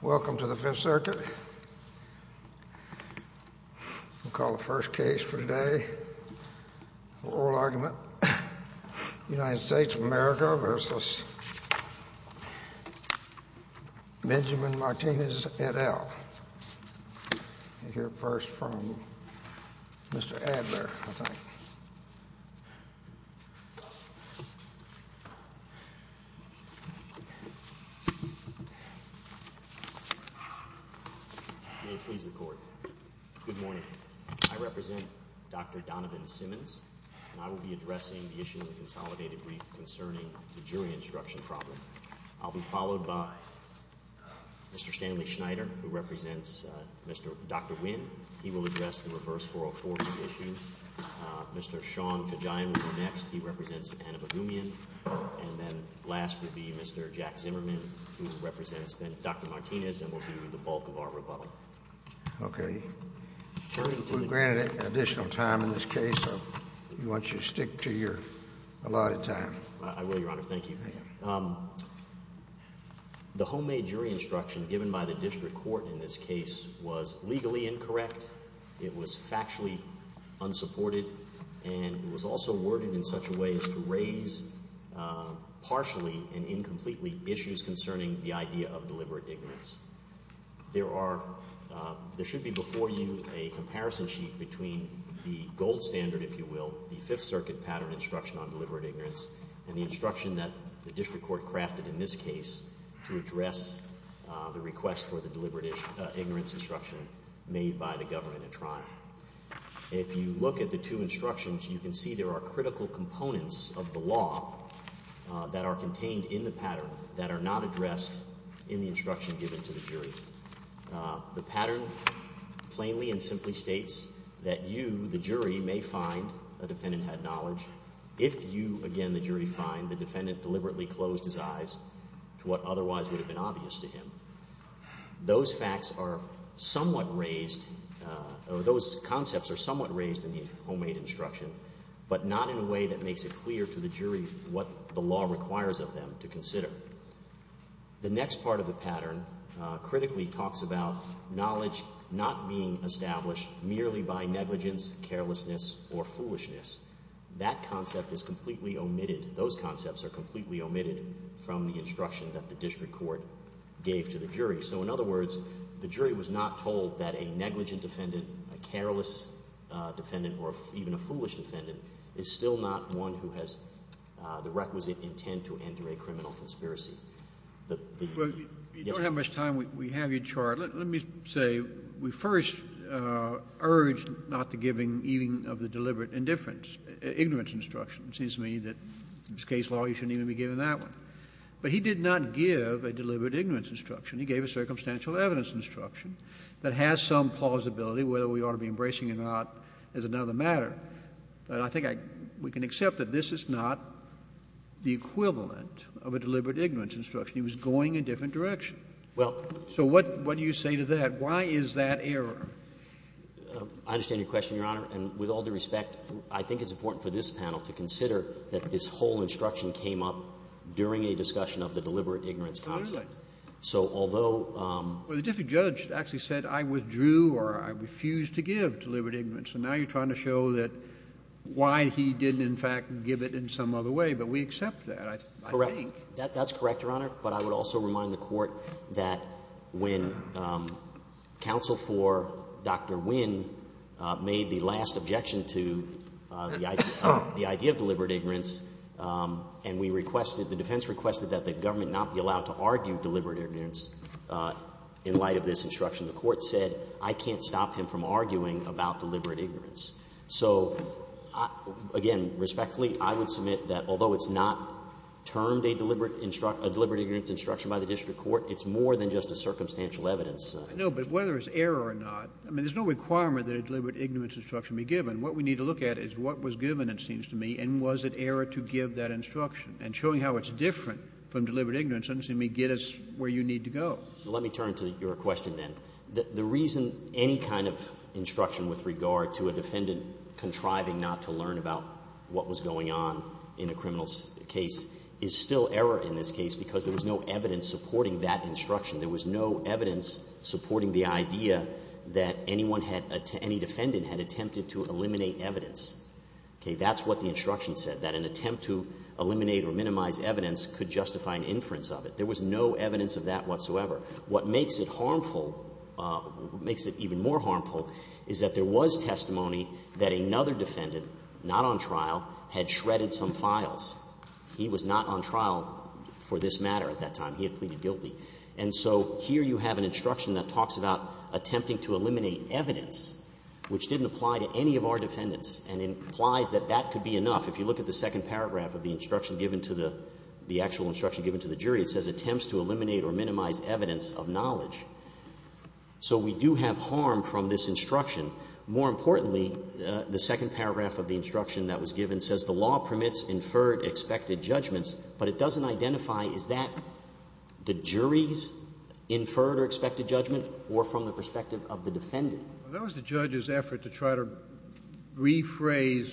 Welcome to the Fifth Circuit. We'll call the first case for today, oral argument, United States of America v. Benjamin Martinez, et al. We'll hear first from Mr. Adler. Good morning. I represent Dr. Donovan Simmons, and I will be addressing the issue of the consolidated brief concerning the jury instruction problem. I'll be followed by Mr. Stanley Schneider, who represents Dr. Wynn. He will address the reverse oral court issue. Mr. Sean Kajai will be next. He represents Anna Bagumian. And then last will be Mr. Jack Zimmerman, who represents Dr. Martinez, and will deal with the bulk of our rebuttal. Okay. We'll grant additional time in this case. I want you to stick to your allotted time. I will, Your Honor. Thank you. The homemade jury instruction given by the district court in this case was legally incorrect. It was factually unsupported, and it was also worded in such a way as to raise partially and incompletely issues concerning the idea of deliberate ignorance. There should be before you a comparison sheet between the gold standard, if you will, the Fifth Circuit pattern instruction on deliberate ignorance, and the instruction that the district court crafted in this case to address the request for the deliberate ignorance instruction made by the government tribe. If you look at the two instructions, you can see there are critical components of the law that are contained in the pattern that are not addressed in the instruction given to the jury. The pattern plainly and simply states that you, the jury, may find the defendant had knowledge. If you, again, the jury, find the defendant deliberately closed his eyes to what otherwise would have been obvious to him, those facts are somewhat raised, those concepts are somewhat raised in the homemade instruction, but not in a way that makes it clear to the jury what the law requires of them to consider. The next part of the pattern critically talks about knowledge not being established merely by negligence, carelessness, or foolishness. That concept is completely omitted, those concepts are completely omitted from the instruction that the district court gave to the jury. So in other words, the jury was not told that a negligent defendant, a careless defendant, or even a foolish defendant, is still not one who has the requisite intent to enter a criminal conspiracy. You don't have much time. We have your chart. Let me say, we first urged not to giving even of the deliberate indifference, ignorance instruction. It seems to me that in this case, well, you shouldn't even be giving that one. But he did not give a deliberate ignorance instruction. He gave a circumstantial evidence instruction that has some plausibility, whether we ought to be embracing it or not, is another matter. And I think we can accept that this is not the equivalent of a deliberate ignorance instruction. He was going in a different direction. So what do you say to that? Why is that error? I understand your question, Your Honor. And with all due respect, I think it's important for this panel to consider that this whole instruction came up during a discussion of the deliberate ignorance concept. Well, it did. Well, the different judge actually said, I withdrew or I refused to give deliberate ignorance. And now you're trying to show that why he didn't, in fact, give it in some other way. But we accept that, I think. Correct. That's correct, Your Honor. But I would also remind the Court that when counsel for Dr. Wynn made the last objection to the idea of deliberate ignorance, and we requested, the defense requested that the government not be allowed to argue deliberate ignorance in light of this instruction. The Court said, I can't stop him from arguing about deliberate ignorance. So, again, respectfully, I would submit that although it's not termed a deliberate ignorance instruction by the district court, it's more than just a circumstantial evidence. No, but whether it's error or not, I mean, there's no requirement that a deliberate ignorance instruction be given. What we need to look at is what was given, it seems to me, and was it error to give that instruction. And showing how it's different from deliberate ignorance doesn't seem to get us where you need to go. Let me turn to your question then. The reason any kind of instruction with regard to a defendant contriving not to learn about what was going on in a criminal's case is still error in this case because there was no evidence supporting that instruction. There was no evidence supporting the idea that any defendant had attempted to eliminate evidence. That's what the instruction said, that an attempt to eliminate or minimize evidence could justify an inference of it. There was no evidence of that whatsoever. What makes it harmful, what makes it even more harmful is that there was testimony that another defendant, not on trial, had shredded some files. He was not on trial for this matter at that time. He had pleaded guilty. And so here you have an instruction that talks about attempting to eliminate evidence, which didn't apply to any of our defendants and implies that that could be enough. If you look at the second paragraph of the instruction given to the, the actual instruction given to the jury, it says attempts to eliminate or minimize evidence of knowledge. So we do have harm from this instruction. More importantly, the second paragraph of the instruction that was given says the law permits inferred expected judgments, but it doesn't identify, is that the jury's inferred or expected judgment or from the perspective of the defendant? That was the judge's effort to try to rephrase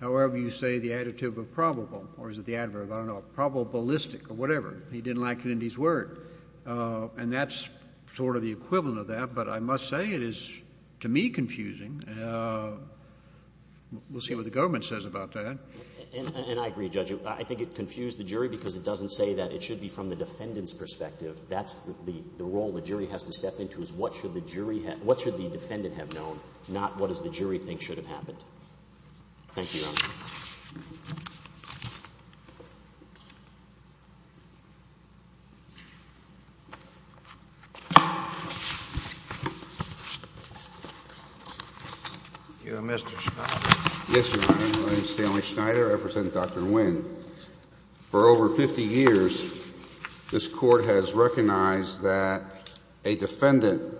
however you say the adjective of probable, or is it the adverb, I don't know, probabilistic or whatever. He didn't like it in his word. And that's sort of the equivalent of that. But I must say it is, to me, confusing. We'll see what the government says about that. And I agree, Judge. I think it confused the jury because it doesn't say that it should be from the defendant's perspective. That's the role the jury has to step into is what should the jury have, what should the defendant have known, not what does the jury think should have happened. Thank you. You are Mr. Schneider. Yes, Your Honor. My name is Stanley Schneider. I represent Dr. Nguyen. For over 50 years, this court has recognized that a defendant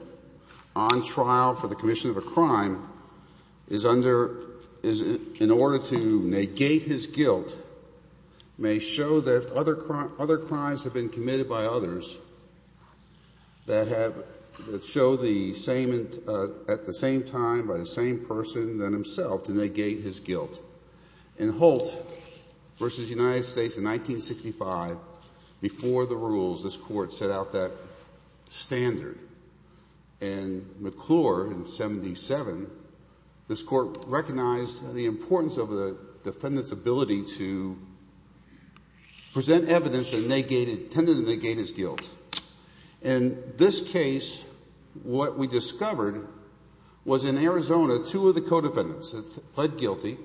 on trial for the commission of a crime in order to negate his guilt may show that other crimes have been committed by others that show at the same time by the same person than himself to negate his guilt. In Holt v. United States in 1965, before the rules, this court set out that standard. In McClure in 77, this court recognized the importance of the defendant's ability to present evidence intended to negate his guilt. In this case, what we discovered was in Arizona, two of the co-defendants pled guilty.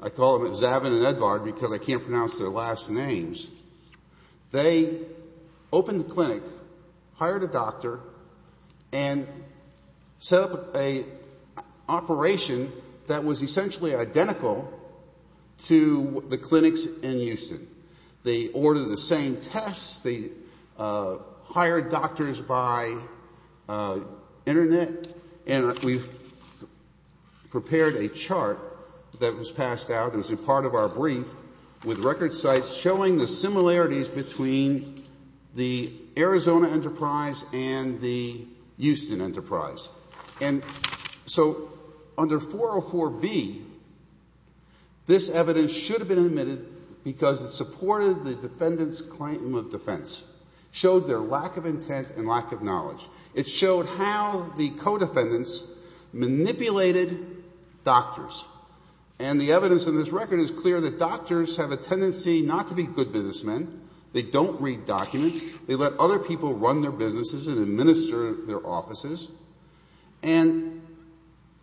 I call them Zabin and Edvard because I can't pronounce their last names. They opened the clinic, hired a doctor, and set up an operation that was essentially identical to the clinics in Houston. They ordered the same tests. They hired doctors by internet. And we've prepared a chart that was passed out as a part of our brief with record sites showing the similarities between the Arizona Enterprise and the Houston Enterprise. And so under 404B, this evidence should have been admitted because it supported the defendant's claim of defense, showed their lack of intent and lack of knowledge. It showed how the co-defendants manipulated doctors. And the evidence in this record is clear that doctors have a tendency not to be good businessmen. They don't read documents. They let other people run their businesses and administer their offices. And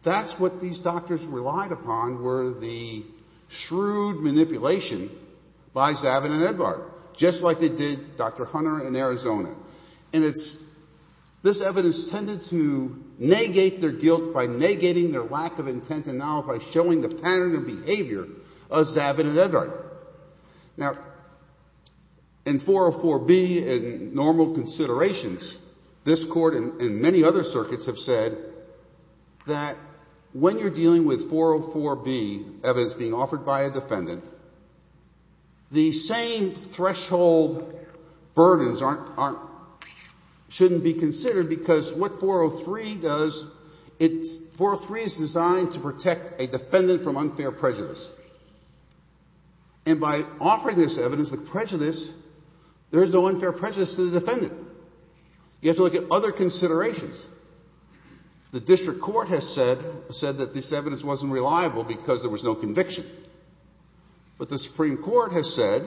that's what these doctors relied upon were the shrewd manipulation by Zabin and Edvard, just like they did Dr. Hunter in Arizona. And this evidence tended to negate their guilt by negating their lack of intent and knowledge by showing the pattern of behavior of Zabin and Edvard. Now, in 404B and normal considerations, this court and many other circuits have said that when you're dealing with 404B evidence being offered by a defendant, the same threshold burdens shouldn't be considered because what 403 does, 403 is designed to protect a defendant from unfair prejudice. And by offering this evidence with prejudice, there's no unfair prejudice to the defendant. You have to look at other considerations. The district court has said that this evidence wasn't reliable because there was no conviction. But the Supreme Court has said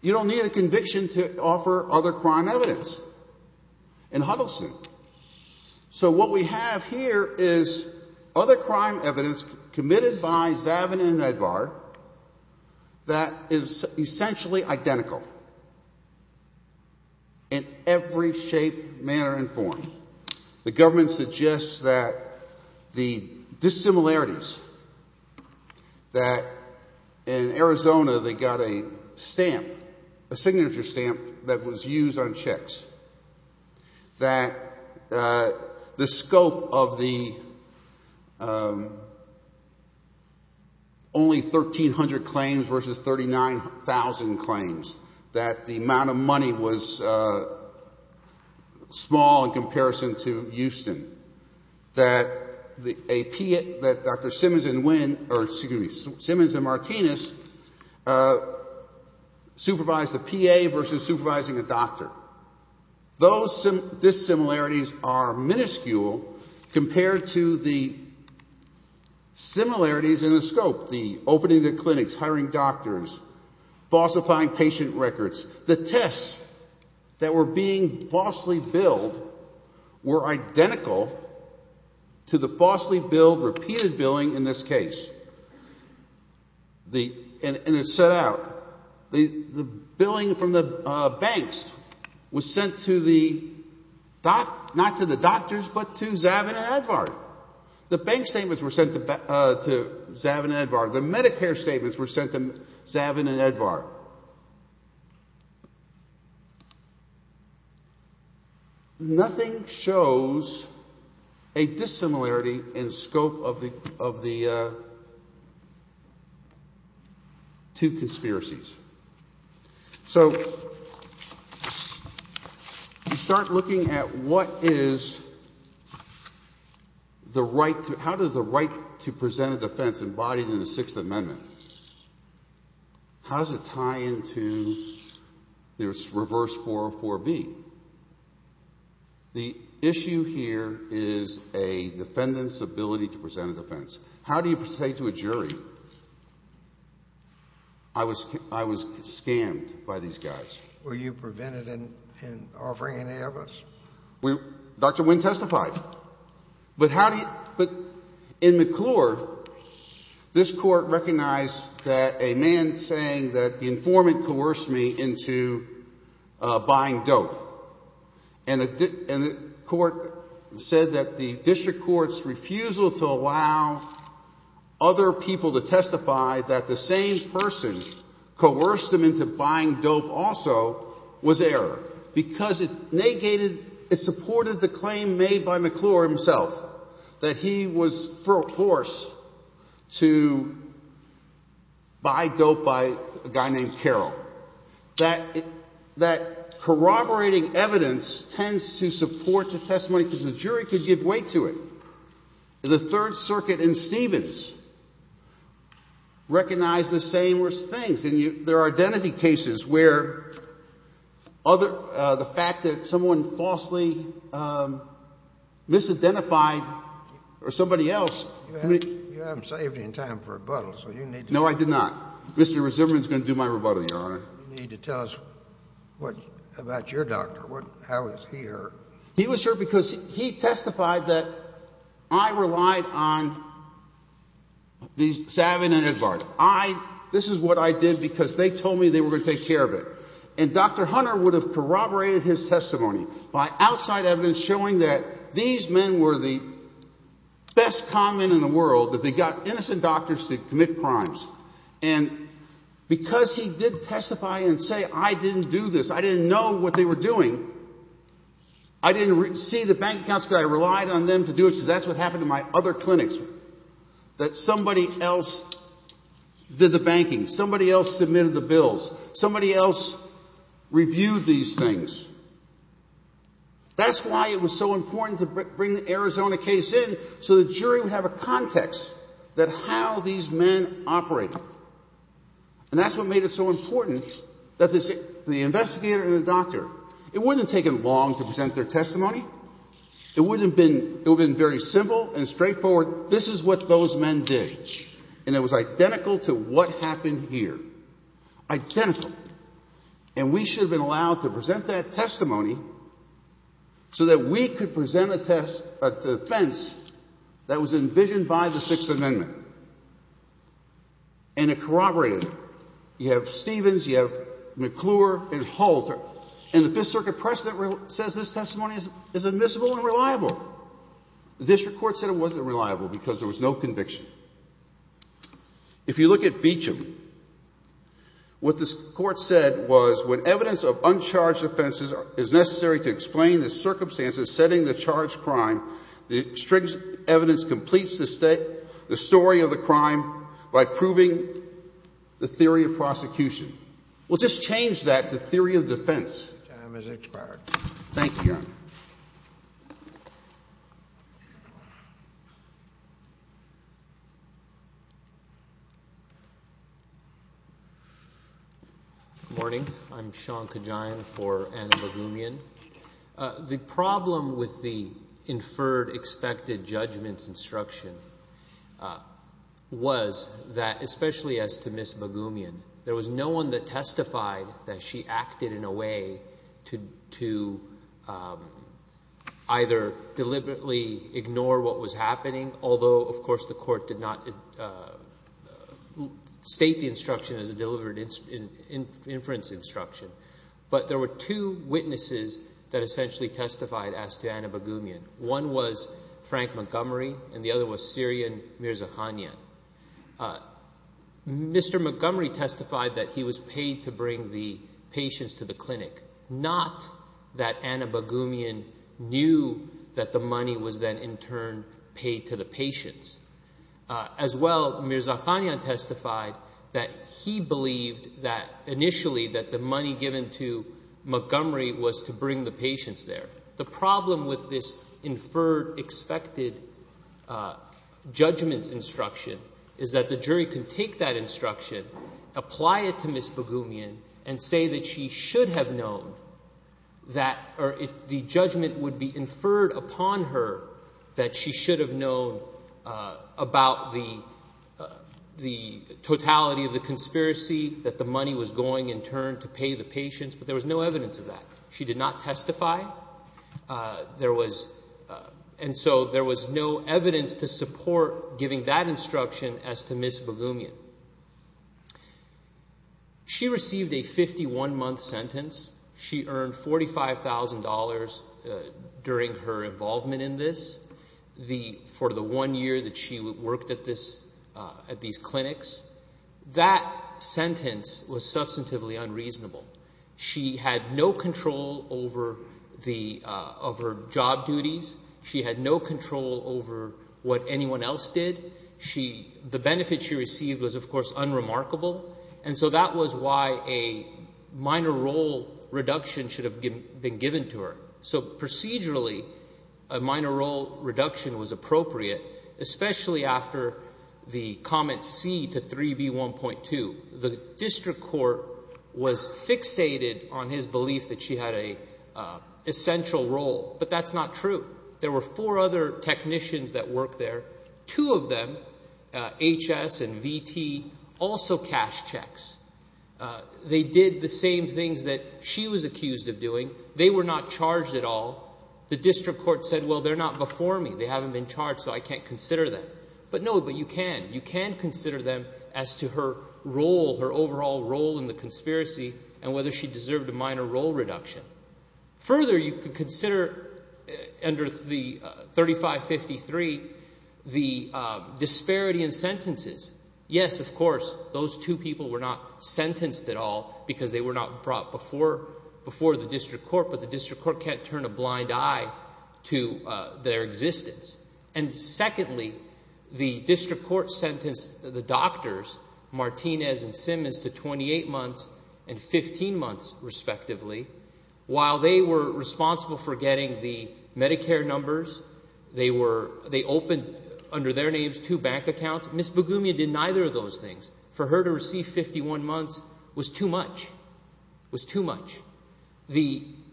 you don't need a conviction to offer other crime evidence in Huddleston. So what we have here is other crime evidence committed by Zabin and Edvard that is essentially identical in every shape, manner, and form. The government suggests that the dissimilarities that in Arizona they got a stamp, a signature stamp that was used on checks. That the scope of the only 1,300 claims versus 39,000 claims. That the amount of money was small in comparison to Houston. That Dr. Simmons and Martinez supervised the PA versus supervising the doctor. Those dissimilarities are minuscule compared to the similarities in the scope. The opening of clinics, hiring doctors, falsifying patient records. The tests that were being falsely billed were identical to the falsely billed, repeated billing in this case. The billing from the banks was sent not to the doctors but to Zabin and Edvard. The bank statements were sent to Zabin and Edvard. The Medicare statements were sent to Zabin and Edvard. Nothing shows a dissimilarity in scope of the two conspiracies. So you start looking at what is the right, how does the right to present a defense embodies in the Sixth Amendment. How does it tie into this reverse 404B? The issue here is a defendant's ability to present a defense. How do you say to a jury, I was scammed by these guys? Were you prevented in offering an alibis? Dr. Wing testified. But in McClure, this court recognized that a man saying that the informant coerced me into buying dope. And the court said that the district court's refusal to allow other people to testify that the same person coerced them into buying dope also was error. Because it negated, it supported the claim made by McClure himself that he was forced to buy dope by a guy named Carroll. That corroborating evidence tends to support the testimony to the jury to give way to it. The Third Circuit in Stevens recognized the same things. There are identity cases where the fact that someone falsely misidentified somebody else. You haven't saved any time for rebuttals. No, I did not. Mr. Resimian is going to do my rebuttal here. You need to tell us about your doctor, how he was here. He was here because he testified that I relied on these savages. This is what I did because they told me they were going to take care of it. And Dr. Hunter would have corroborated his testimony by outside evidence showing that these men were the best con men in the world, that they got innocent doctors to commit crimes. Because he did testify and say I didn't do this, I didn't know what they were doing, I didn't see the bank accounts because I relied on them to do it. So that's what happened in my other clinics, that somebody else did the banking, somebody else submitted the bills, somebody else reviewed these things. That's why it was so important to bring the Arizona case in so the jury would have a context that how these men operate. And that's what made it so important that the investigator and the doctor, it wouldn't have taken long to present their testimony. It would have been very simple and straightforward, this is what those men did. And it was identical to what happened here. Identical. And we should have been allowed to present that testimony so that we could present a defense that was envisioned by the Sixth Amendment. And it corroborated it. You have Stevens, you have McClure, and Halter. And the Fifth Circuit precedent says this testimony is admissible and reliable. The district court said it wasn't reliable because there was no conviction. If you look at Beecham, what the court said was when evidence of uncharged offenses is necessary to explain the circumstances setting the charged crime, the district's evidence completes the story of the crime by proving the theory of prosecution. We'll just change that to theory of defense. Your time has expired. Thank you. Good morning. I'm Sean Kajian for Anne Magumian. The problem with the inferred expected judgment instruction was that, especially as to Ms. Magumian, there was no one that testified that she acted in a way to either deliberately ignore what was happening, although, of course, the court did not state the instruction as a deliberate inference instruction. But there were two witnesses that essentially testified as to Anne Magumian. One was Frank Montgomery and the other was Syrian Mirza Hania. Mr. Montgomery testified that he was paid to bring the patients to the clinic, not that Anne Magumian knew that the money was then in turn paid to the patients. As well, Mirza Hania testified that he believed that initially that the money given to Montgomery was to bring the patients there. The problem with this inferred expected judgment instruction is that the jury can take that instruction, apply it to Ms. Magumian, and say that she should have known that or if the judgment would be inferred upon her that she should have known about the totality of the conspiracy, that the money was going in turn to pay the patients, but there was no evidence of that. She did not testify. And so there was no evidence to support giving that instruction as to Ms. Magumian. She received a 51-month sentence. She earned $45,000 during her involvement in this for the one year that she worked at these clinics. That sentence was substantively unreasonable. She had no control over her job duties. She had no control over what anyone else did. The benefit she received was, of course, unremarkable. And so that was why a minor role reduction should have been given to her. So procedurally, a minor role reduction was appropriate, especially after the comment C to 3B1.2. The district court was fixated on his belief that she had an essential role, but that's not true. There were four other technicians that worked there. Two of them, HS and VT, also cashed checks. They did the same things that she was accused of doing. They were not charged at all. The district court said, well, they're not before me. They haven't been charged, so I can't consider them. But no, but you can. You can consider them as to her role, her overall role in the conspiracy, and whether she deserved a minor role reduction. Further, you can consider under 3553 the disparity in sentences. Yes, of course, those two people were not sentenced at all because they were not brought before the district court, but the district court can't turn a blind eye to their existence. And secondly, the district court sentenced the doctors, Martinez and Simmons, to 28 months and 15 months, respectively. While they were responsible for getting the Medicare numbers, they opened, under their names, two bank accounts. Ms. Begumia did neither of those things. For her to receive 51 months was too much, was too much.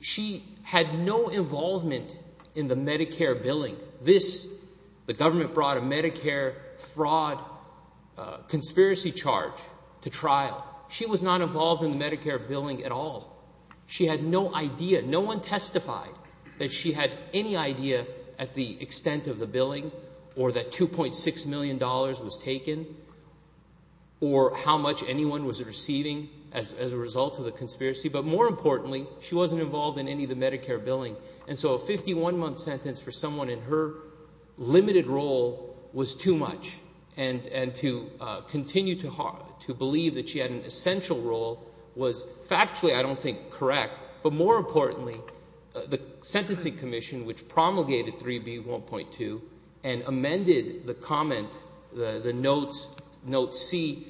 She had no involvement in the Medicare billing. The government brought a Medicare fraud conspiracy charge to trial. She was not involved in the Medicare billing at all. She had no idea. No one testified that she had any idea at the extent of the billing or that $2.6 million was taken or how much anyone was receiving as a result of the conspiracy. But more importantly, she wasn't involved in any of the Medicare billing. And so a 51-month sentence for someone in her limited role was too much. And to continue to believe that she had an essential role was factually, I don't think, correct. But more importantly, the Sentencing Commission, which promulgated 3B1.2 and amended the comments, the notes, note C,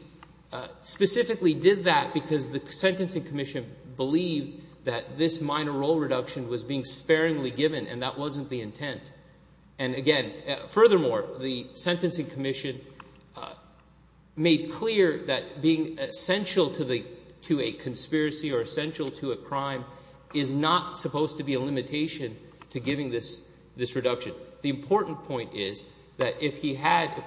specifically did that because the Sentencing Commission believed that this minor role reduction was being sparingly given and that wasn't the intent. And again, furthermore, the Sentencing Commission made clear that being essential to a conspiracy or essential to a crime is not supposed to be a limitation to giving this reduction. But the important point is that if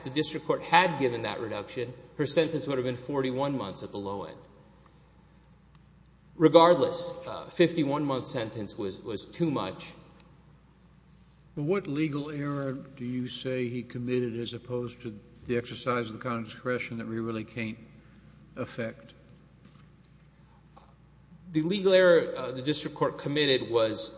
the district court had given that reduction, her sentence would have been 41 months at the low end. Regardless, a 51-month sentence was too much. What legal error do you say he committed as opposed to the exercise of the Constitution that we really can't affect? The legal error the district court committed was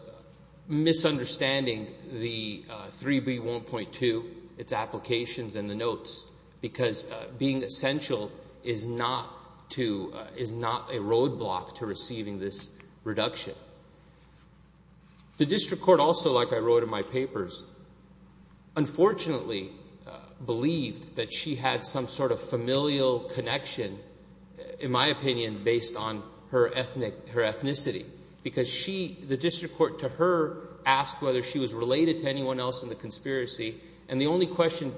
misunderstanding the 3B1.2, its applications and the notes, because being essential is not a roadblock to receiving this reduction. The district court also, like I wrote in my papers, unfortunately believed that she had some sort of familial connection, in my opinion, based on her ethnicity, because the district court to her asked whether she was related to anyone else in the conspiracy, and the only question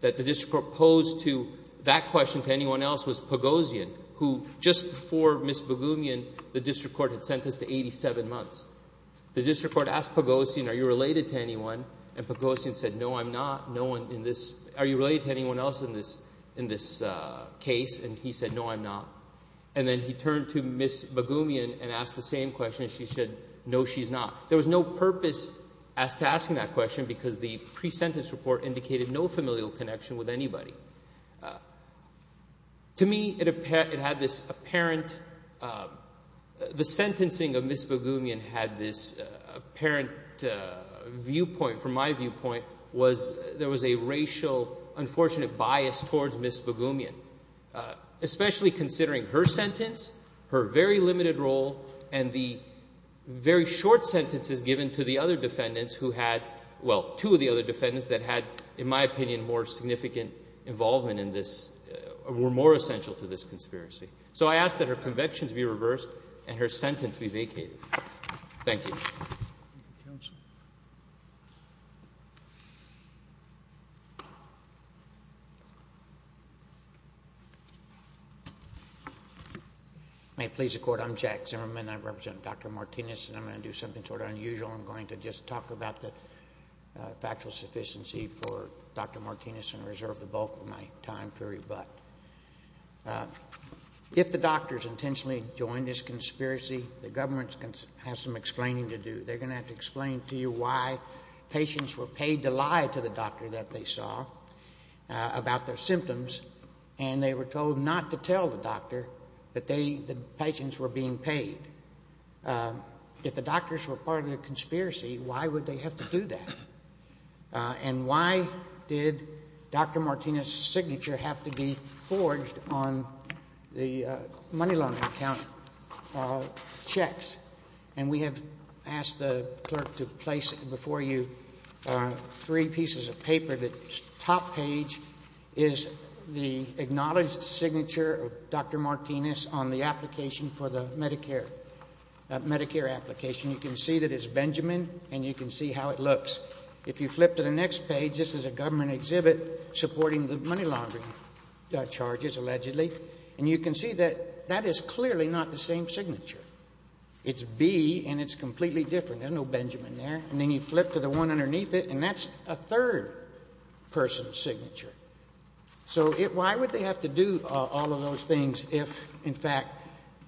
that the district court posed to that question to anyone else was Pagosian, who just before Ms. Bagumian, the district court had sentenced to 87 months. The district court asked Pagosian, are you related to anyone? And Pagosian said, no, I'm not. Are you related to anyone else in this case? And he said, no, I'm not. And then he turned to Ms. Bagumian and asked the same question. She said, no, she's not. There was no purpose asked to asking that question, because the pre-sentence report indicated no familial connection with anybody. To me, the sentencing of Ms. Bagumian had this apparent viewpoint, from my viewpoint, was there was a racial, unfortunate bias towards Ms. Bagumian, especially considering her sentence, her very limited role, and the very short sentences given to the other defendants who had, well, two of the other defendants that had, in my opinion, more significant involvement in this or were more essential to this conspiracy. So I ask that her convictions be reversed and her sentence be vacated. Thank you. May it please the Court, I'm Jack Zimmerman. I represent Dr. Martinez, and I'm going to do something sort of unusual. I'm going to just talk about the factual sufficiency for Dr. Martinez and reserve the bulk of my time to rebut. If the doctors intentionally joined this conspiracy, the government has some explaining to do. They're going to have to explain to you why patients were paid to lie to the doctor that they saw about their symptoms, and they were told not to tell the doctor that the patients were being paid. If the doctors were part of the conspiracy, why would they have to do that? And why did Dr. Martinez's signature have to be forged on the money laundering account checks? And we have asked the clerk to place before you three pieces of paper. The top page is the acknowledged signature of Dr. Martinez on the application for the Medicare application. You can see that it's Benjamin, and you can see how it looks. If you flip to the next page, this is a government exhibit supporting the money laundering charges, allegedly. And you can see that that is clearly not the same signature. It's B, and it's completely different. There's no Benjamin there. And then you flip to the one underneath it, and that's a third person's signature. So why would they have to do all of those things if, in fact,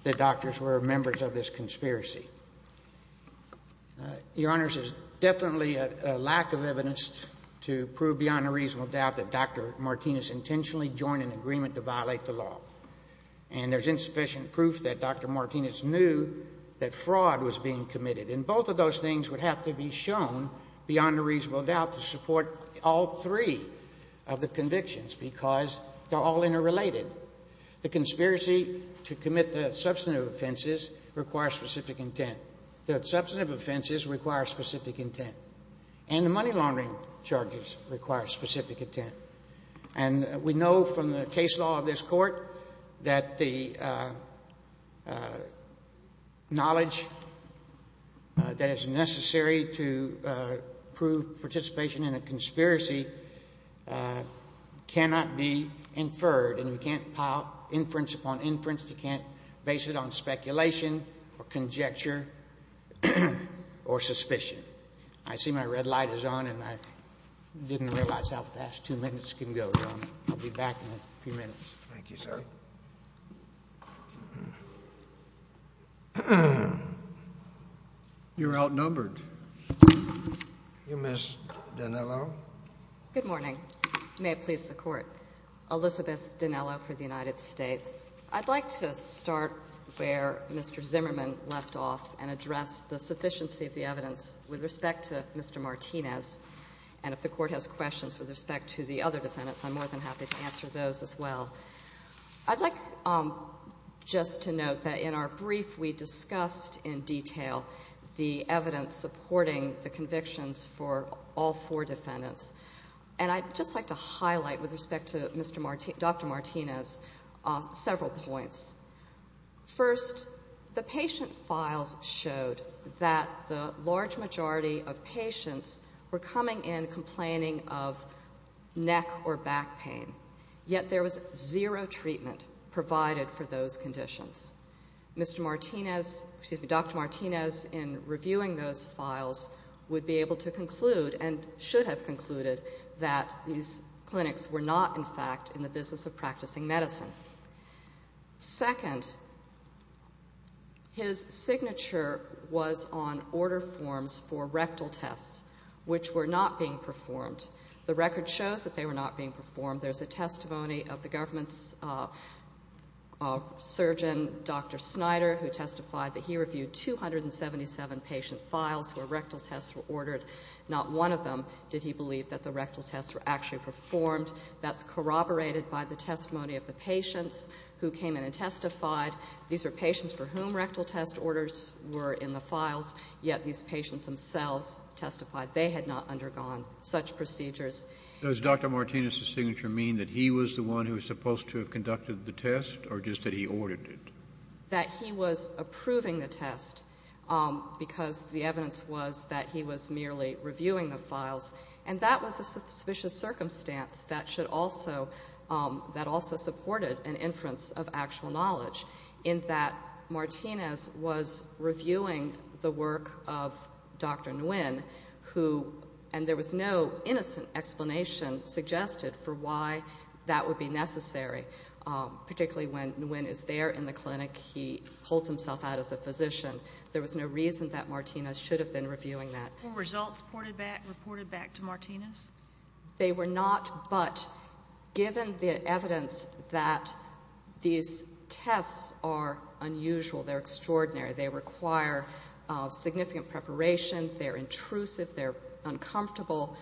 the doctors were members of this conspiracy? Your Honors, there's definitely a lack of evidence to prove beyond a reasonable doubt that Dr. Martinez intentionally joined an agreement to violate the law. And there's insufficient proof that Dr. Martinez knew that fraud was being committed. And both of those things would have to be shown beyond a reasonable doubt to support all three of the convictions because they're all interrelated. The conspiracy to commit the substantive offenses requires specific intent. The substantive offenses require specific intent. And the money laundering charges require specific intent. And we know from the case law of this Court that the knowledge that is necessary to prove participation in a conspiracy cannot be inferred. And you can't pile inference upon inference. You can't base it on speculation or conjecture or suspicion. I see my red light is on, and I didn't realize how fast two minutes can go. I'll be back in a few minutes. Thank you, sir. You're outnumbered. Ms. Dinello? Good morning. May it please the Court. Elizabeth Dinello for the United States. I'd like to start where Mr. Zimmerman left off and address the sufficiency of the evidence with respect to Mr. Martinez. And if the Court has questions with respect to the other defendants, I'm more than happy to answer those as well. I'd like just to note that in our brief we discussed in detail the evidence supporting the convictions for all four defendants. And I'd just like to highlight with respect to Dr. Martinez several points. First, the patient files showed that the large majority of patients were coming in complaining of neck or back pain. Yet there was zero treatment provided for those conditions. Dr. Martinez, in reviewing those files, would be able to conclude, and should have concluded, that these clinics were not, in fact, in the business of practicing medicine. Second, his signature was on order forms for rectal tests, which were not being performed. The record shows that they were not being performed. There's a testimony of the government's surgeon, Dr. Snyder, who testified that he reviewed 277 patient files where rectal tests were ordered. Not one of them did he believe that the rectal tests were actually performed. That's corroborated by the testimony of the patients who came in and testified. These are patients for whom rectal test orders were in the files, yet these patients themselves testified they had not undergone such procedures. Does Dr. Martinez's signature mean that he was the one who was supposed to have conducted the test, or just that he ordered it? That he was approving the test because the evidence was that he was merely reviewing the files, and that was a suspicious circumstance that also supported an inference of actual knowledge, in that Martinez was reviewing the work of Dr. Nguyen, and there was no innocent explanation suggested for why that would be necessary, particularly when Nguyen is there in the clinic, he holds himself out as a physician. There was no reason that Martinez should have been reviewing that. Were results reported back to Martinez? They were not, but given the evidence that these tests are unusual, they're extraordinary, they require significant preparation, they're intrusive, they're uncomfortable,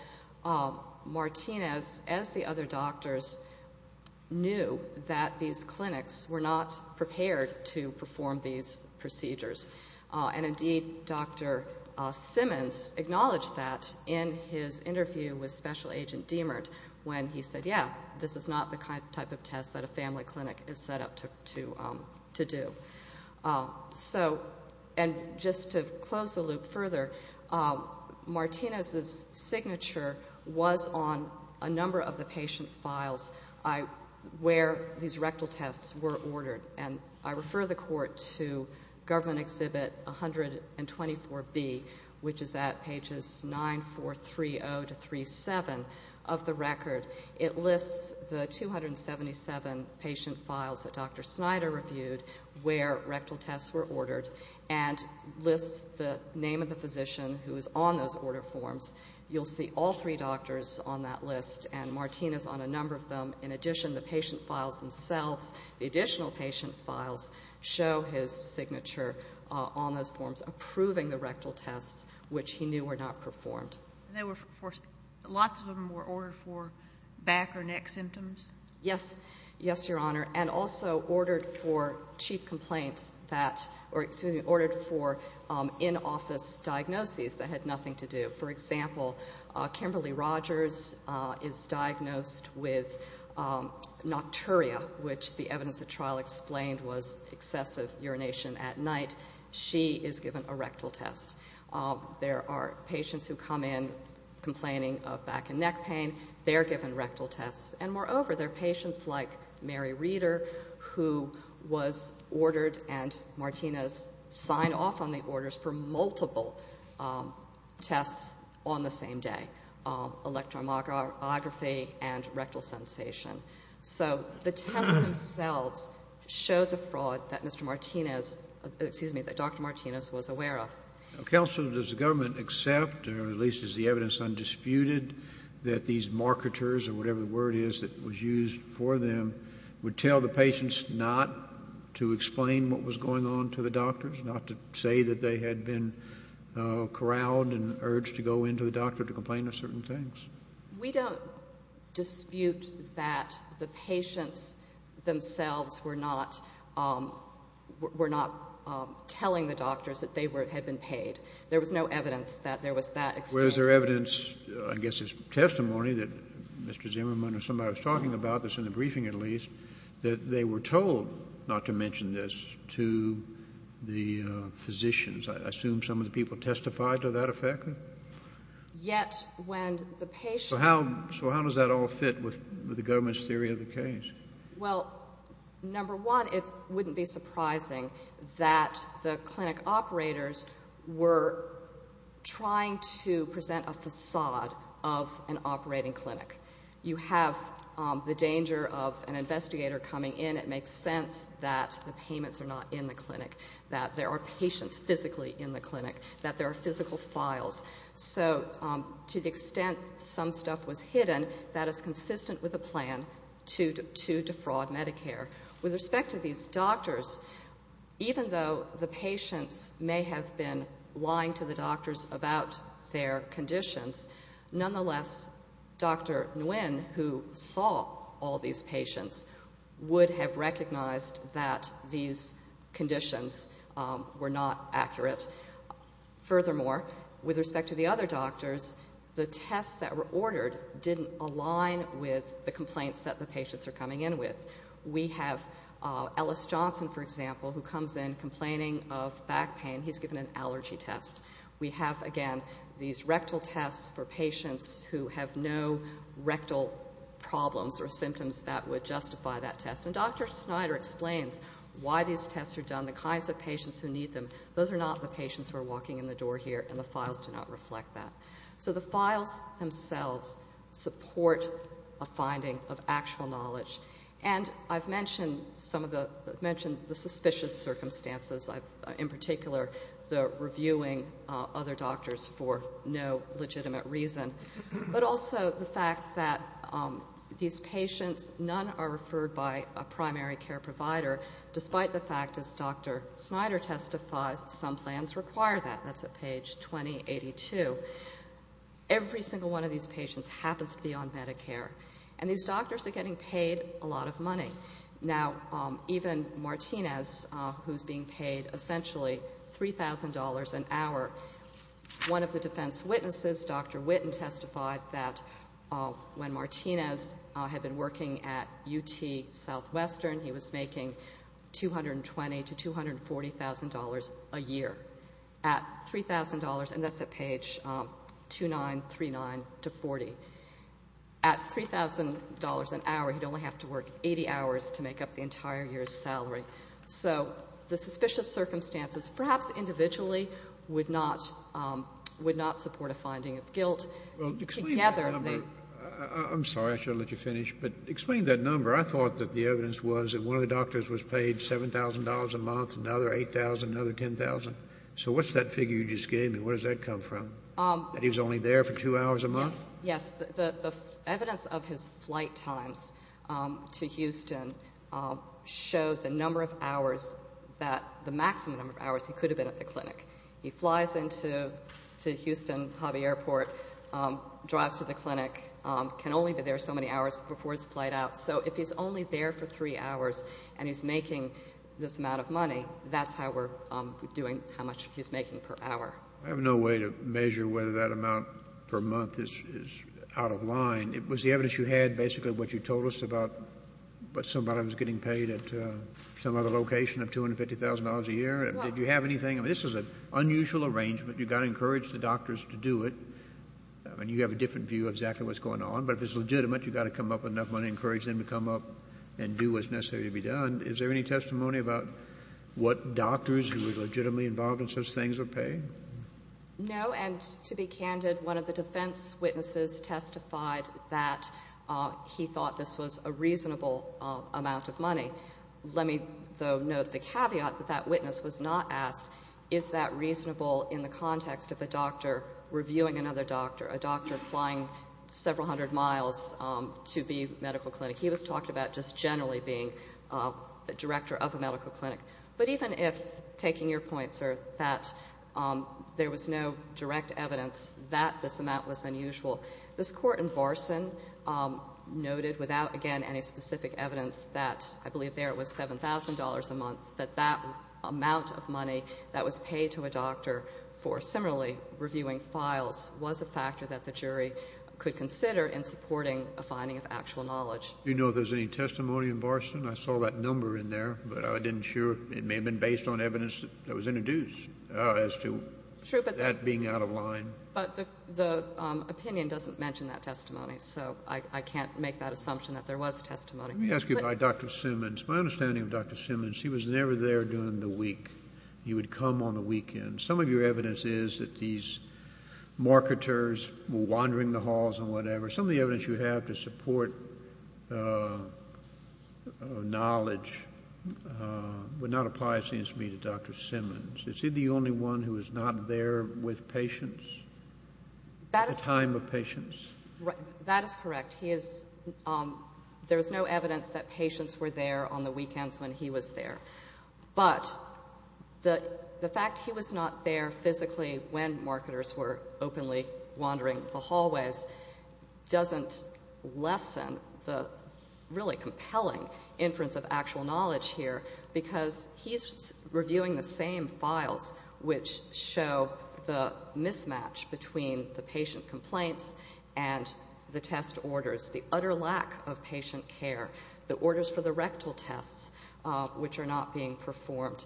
Martinez, as the other doctors, knew that these clinics were not prepared to perform these procedures. And indeed, Dr. Simmons acknowledged that in his interview with Special Agent Deimert, when he said, yeah, this is not the type of test that a family clinic is set up to do. So, and just to close the loop further, Martinez's signature was on a number of the patient's files where these rectal tests were ordered, and I refer the Court to Government Exhibit 124B, which is at pages 9, 4, 3, 0 to 3, 7 of the record. It lists the 277 patient files that Dr. Snyder reviewed where rectal tests were ordered, and lists the name of the physician who was on those order forms. You'll see all three doctors on that list, and Martinez on a number of them. In addition, the patient files themselves, the additional patient files, show his signature on those forms, approving the rectal tests which he knew were not performed. Lots of them were ordered for back or neck symptoms? Yes. Yes, Your Honor. And also ordered for chief complaints that, or excuse me, ordered for in-office diagnoses that had nothing to do. For example, Kimberly Rogers is diagnosed with nocturia, which the evidence of trial explained was excessive urination at night. She is given a rectal test. There are patients who come in complaining of back and neck pain. They're given rectal tests. And moreover, there are patients like Mary Reeder who was ordered and Martinez signed off on the orders for multiple tests on the same day, electromyography and rectal sensation. So the test itself shows a fraud that Mr. Martinez, excuse me, that Dr. Martinez was aware of. Counsel, does the government accept, or at least is the evidence undisputed, that these marketers, or whatever the word is that was used for them, would tell the patients not to explain what was going on to the doctors, not to say that they had been corralled and urged to go into the doctor to complain of certain things? We don't dispute that the patients themselves were not telling the doctors that they had been paid. There was no evidence that there was that. Was there evidence, I guess it's testimony, that Mr. Zimmerman or somebody was talking about this in the briefing at least, that they were told not to mention this to the physicians? I assume some of the people testified to that effect? Yet when the patient- So how does that all fit with the government's theory of the case? Well, number one, it wouldn't be surprising that the clinic operators were trying to present a facade of an operating clinic. You have the danger of an investigator coming in. It makes sense that the payments are not in the clinic, that there are patients physically in the clinic, that there are physical files. So to the extent some stuff was hidden, that is consistent with a plan to defraud Medicare. With respect to these doctors, even though the patient may have been lying to the doctors about their conditions, nonetheless, Dr. Nguyen, who saw all these patients, would have recognized that these conditions were not accurate. Furthermore, with respect to the other doctors, the tests that were ordered didn't align with the complaints that the patients are coming in with. We have Ellis Johnson, for example, who comes in complaining of back pain. He's given an allergy test. We have, again, these rectal tests for patients who have no rectal problems or symptoms that would justify that test. When Dr. Snyder explains why these tests are done, the kinds of patients who need them, those are not the patients who are walking in the door here, and the files do not reflect that. So the files themselves support a finding of actual knowledge. And I've mentioned the suspicious circumstances. In particular, the reviewing other doctors for no legitimate reason, but also the fact that these patients, none are referred by a primary care provider, despite the fact that Dr. Snyder testified some plans require that. That's at page 2082. Every single one of these patients happens to be on Medicare, and these doctors are getting paid a lot of money. Now, even Martinez, who's being paid essentially $3,000 an hour, one of the defense witnesses, Dr. Witten, testified that when Martinez had been working at UT Southwestern, he was making $220,000 to $240,000 a year at $3,000, and that's at page 2939 to 40. At $3,000 an hour, he'd only have to work 80 hours to make up the entire year's salary. So the suspicious circumstances, perhaps individually, would not support a finding of guilt. Well, explain that number. I'm sorry. I should have let you finish. But explain that number. I thought that the evidence was that one of the doctors was paid $7,000 a month, another $8,000, another $10,000. So what's that figure you just gave me? Where does that come from, that he was only there for two hours a month? Yes. The evidence of his flight time to Houston shows the number of hours that the maximum number of hours he could have been at the clinic. He flies into Houston Hobby Airport, drives to the clinic, can only be there so many hours before his flight out. So if he's only there for three hours and he's making this amount of money, that's how we're doing how much he's making per hour. I have no way to measure whether that amount per month is out of line. Was the evidence you had basically what you told us about somebody was getting paid at some other location of $250,000 a year? Did you have anything? I mean, this is an unusual arrangement. You've got to encourage the doctors to do it. I mean, you have a different view of exactly what's going on. But if it's legitimate, you've got to come up with enough money to encourage them to come up and do what's necessary to be done. And is there any testimony about what doctors who are legitimately involved in such things are paying? No, and to be candid, one of the defense witnesses testified that he thought this was a reasonable amount of money. Let me, though, note the caveat that that witness was not asked is that reasonable in the context of a doctor reviewing another doctor, a doctor flying several hundred miles to the medical clinic. He was talked about just generally being a director of a medical clinic. But even if, taking your point, sir, that there was no direct evidence that this amount was unusual, this court in Varson noted without, again, any specific evidence that I believe there it was $7,000 a month, that that amount of money that was paid to a doctor for similarly reviewing files was a factor that the jury could consider in supporting a finding of actual knowledge. Do you know if there's any testimony in Varson? I saw that number in there, but I didn't sure. It may have been based on evidence that was introduced as to that being out of line. But the opinion doesn't mention that testimony, so I can't make that assumption that there was testimony. Let me ask you about Dr. Simmons. My understanding of Dr. Simmons, he was never there during the week. He would come on the weekends. Some of your evidence is that these marketers were wandering the halls and whatever. Some of the evidence you have to support knowledge would not apply, it seems to me, to Dr. Simmons. Is he the only one who was not there with patients at the time of patients? That is correct. There's no evidence that patients were there on the weekends when he was there. But the fact he was not there physically when marketers were openly wandering the hallways doesn't lessen the really compelling interest of actual knowledge here because he is reviewing the same files which show the mismatch between the patient complaints and the test orders, the utter lack of patient care, the orders for the rectal tests which are not being performed.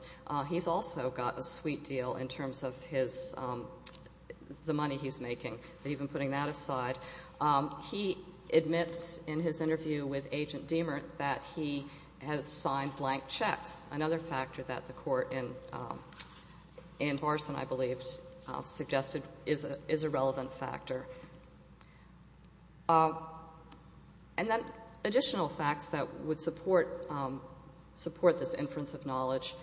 He's also got a sweet deal in terms of the money he's making. Even putting that aside, he admits in his interview with Agent Deamer that he has signed blank checks, another factor that the court in Barson, I believe, suggested is a relevant factor. And then additional facts that would support this inference of knowledge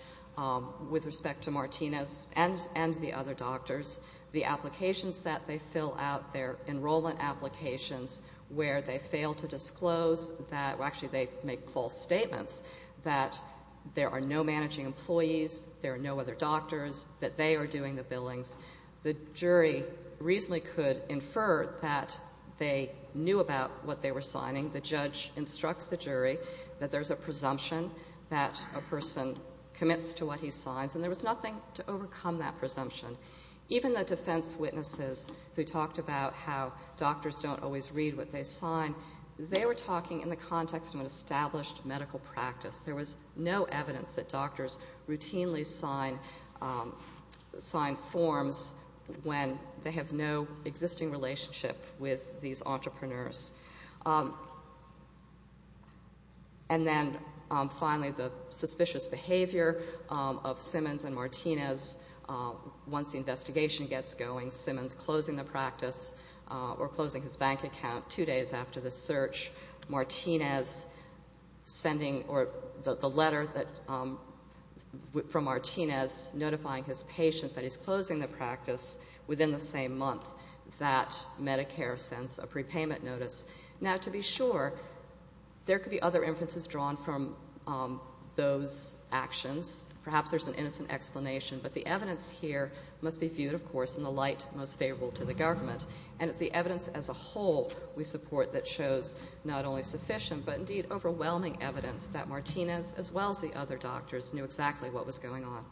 with respect to Martinez and the other doctors, the applications that they fill out, their enrollment applications where they fail to disclose that, well, actually they make false statements that there are no managing employees, there are no other doctors, that they are doing the billing. The jury reasonably could infer that they knew about what they were signing. The judge instructs the jury that there's a presumption that a person commits to what he signs, and there was nothing to overcome that presumption. Even the defense witnesses who talked about how doctors don't always read what they sign, they were talking in the context of an established medical practice. There was no evidence that doctors routinely signed forms when they have no existing relationship with these entrepreneurs. And then finally, the suspicious behavior of Simmons and Martinez. Once the investigation gets going, Simmons closing the practice or closing his bank account two days after the search, Martinez sending the letter from Martinez notifying his patient that he's closing the practice within the same month that Medicare sends a prepayment notice. Now, to be sure, there could be other inferences drawn from those actions. Perhaps there's an innocent explanation, but the evidence here must be viewed, of course, in the light most favorable to the government. And it's the evidence as a whole we support that shows not only sufficient, but indeed overwhelming evidence that Martinez, as well as the other doctors, knew exactly what was going on.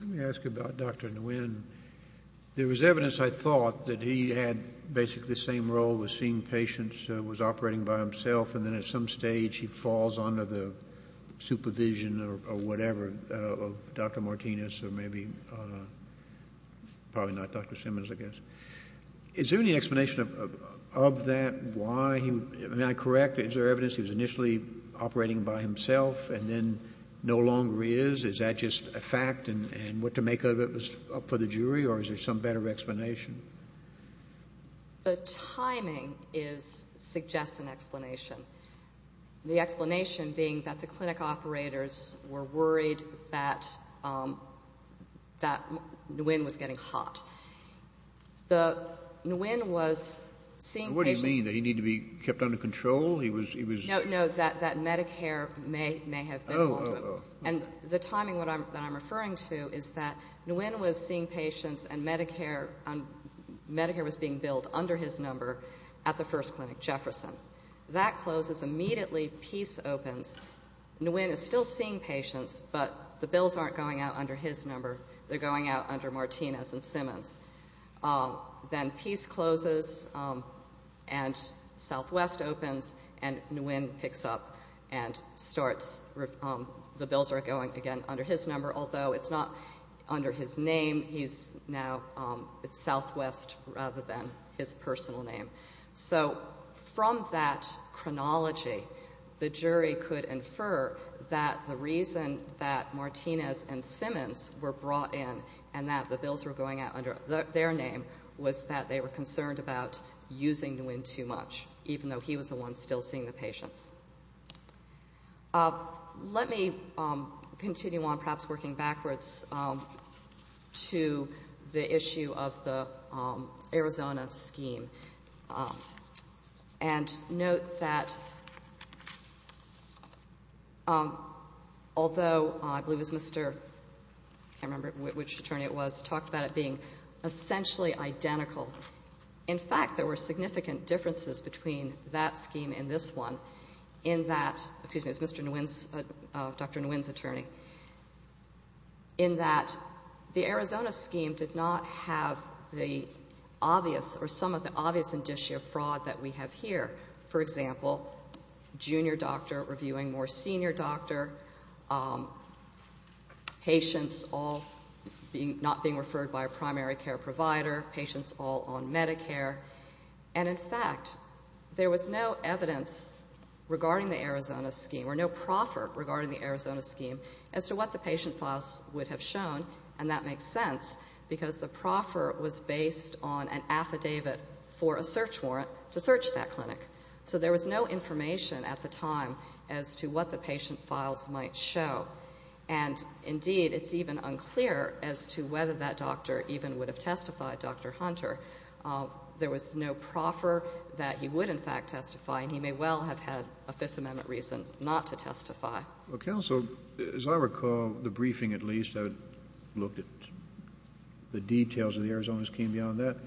Let me ask you about Dr. Nguyen. There was evidence, I thought, that he had basically the same role with seeing patients who was operating by himself, and then at some stage he falls under the supervision or whatever of Dr. Martinez or maybe probably not Dr. Simmons, I guess. Is there any explanation of that? May I correct? Is there evidence he was initially operating by himself and then no longer is? Is that just a fact and what to make of it is up to the jury, or is there some better explanation? The timing suggests an explanation. The explanation being that the clinic operators were worried that Nguyen was getting hot. What do you mean, that he needed to be kept under control? No, that Medicare may have been one of them. And the timing that I'm referring to is that Nguyen was seeing patients and Medicare was being billed under his number at the first clinic, Jefferson. That closes, immediately Peace opens. Nguyen is still seeing patients, but the bills aren't going out under his number. They're going out under Martinez and Simmons. Then Peace closes and Southwest opens and Nguyen picks up and starts. The bills are going again under his number, although it's not under his name. He's now Southwest rather than his personal name. From that chronology, the jury could infer that the reason that Martinez and Simmons were brought in and that the bills were going out under their name was that they were concerned about using Nguyen too much, even though he was the one still seeing the patients. Let me continue on, perhaps working backwards, to the issue of the Arizona scheme. And note that although I believe it was Mr.—I can't remember which attorney it was— talked about it being essentially identical. In fact, there were significant differences between that scheme and this one in that— excuse me, it's Dr. Nguyen's attorney— in that the Arizona scheme did not have the obvious or some of the obvious indicia fraud that we have here. For example, junior doctor reviewing more senior doctor, patients all not being referred by a primary care provider, patients all on Medicare. And in fact, there was no evidence regarding the Arizona scheme or no proffer regarding the Arizona scheme as to what the patient files would have shown. And that makes sense because the proffer was based on an affidavit for a search warrant to search that clinic. So there was no information at the time as to what the patient files might show. And indeed, it's even unclear as to whether that doctor even would have testified, Dr. Hunter. There was no proffer that he would in fact testify, and he may well have had a Fifth Amendment reason not to testify. Well, counsel, as I recall the briefing at least, I looked at the details of the Arizona scheme beyond that.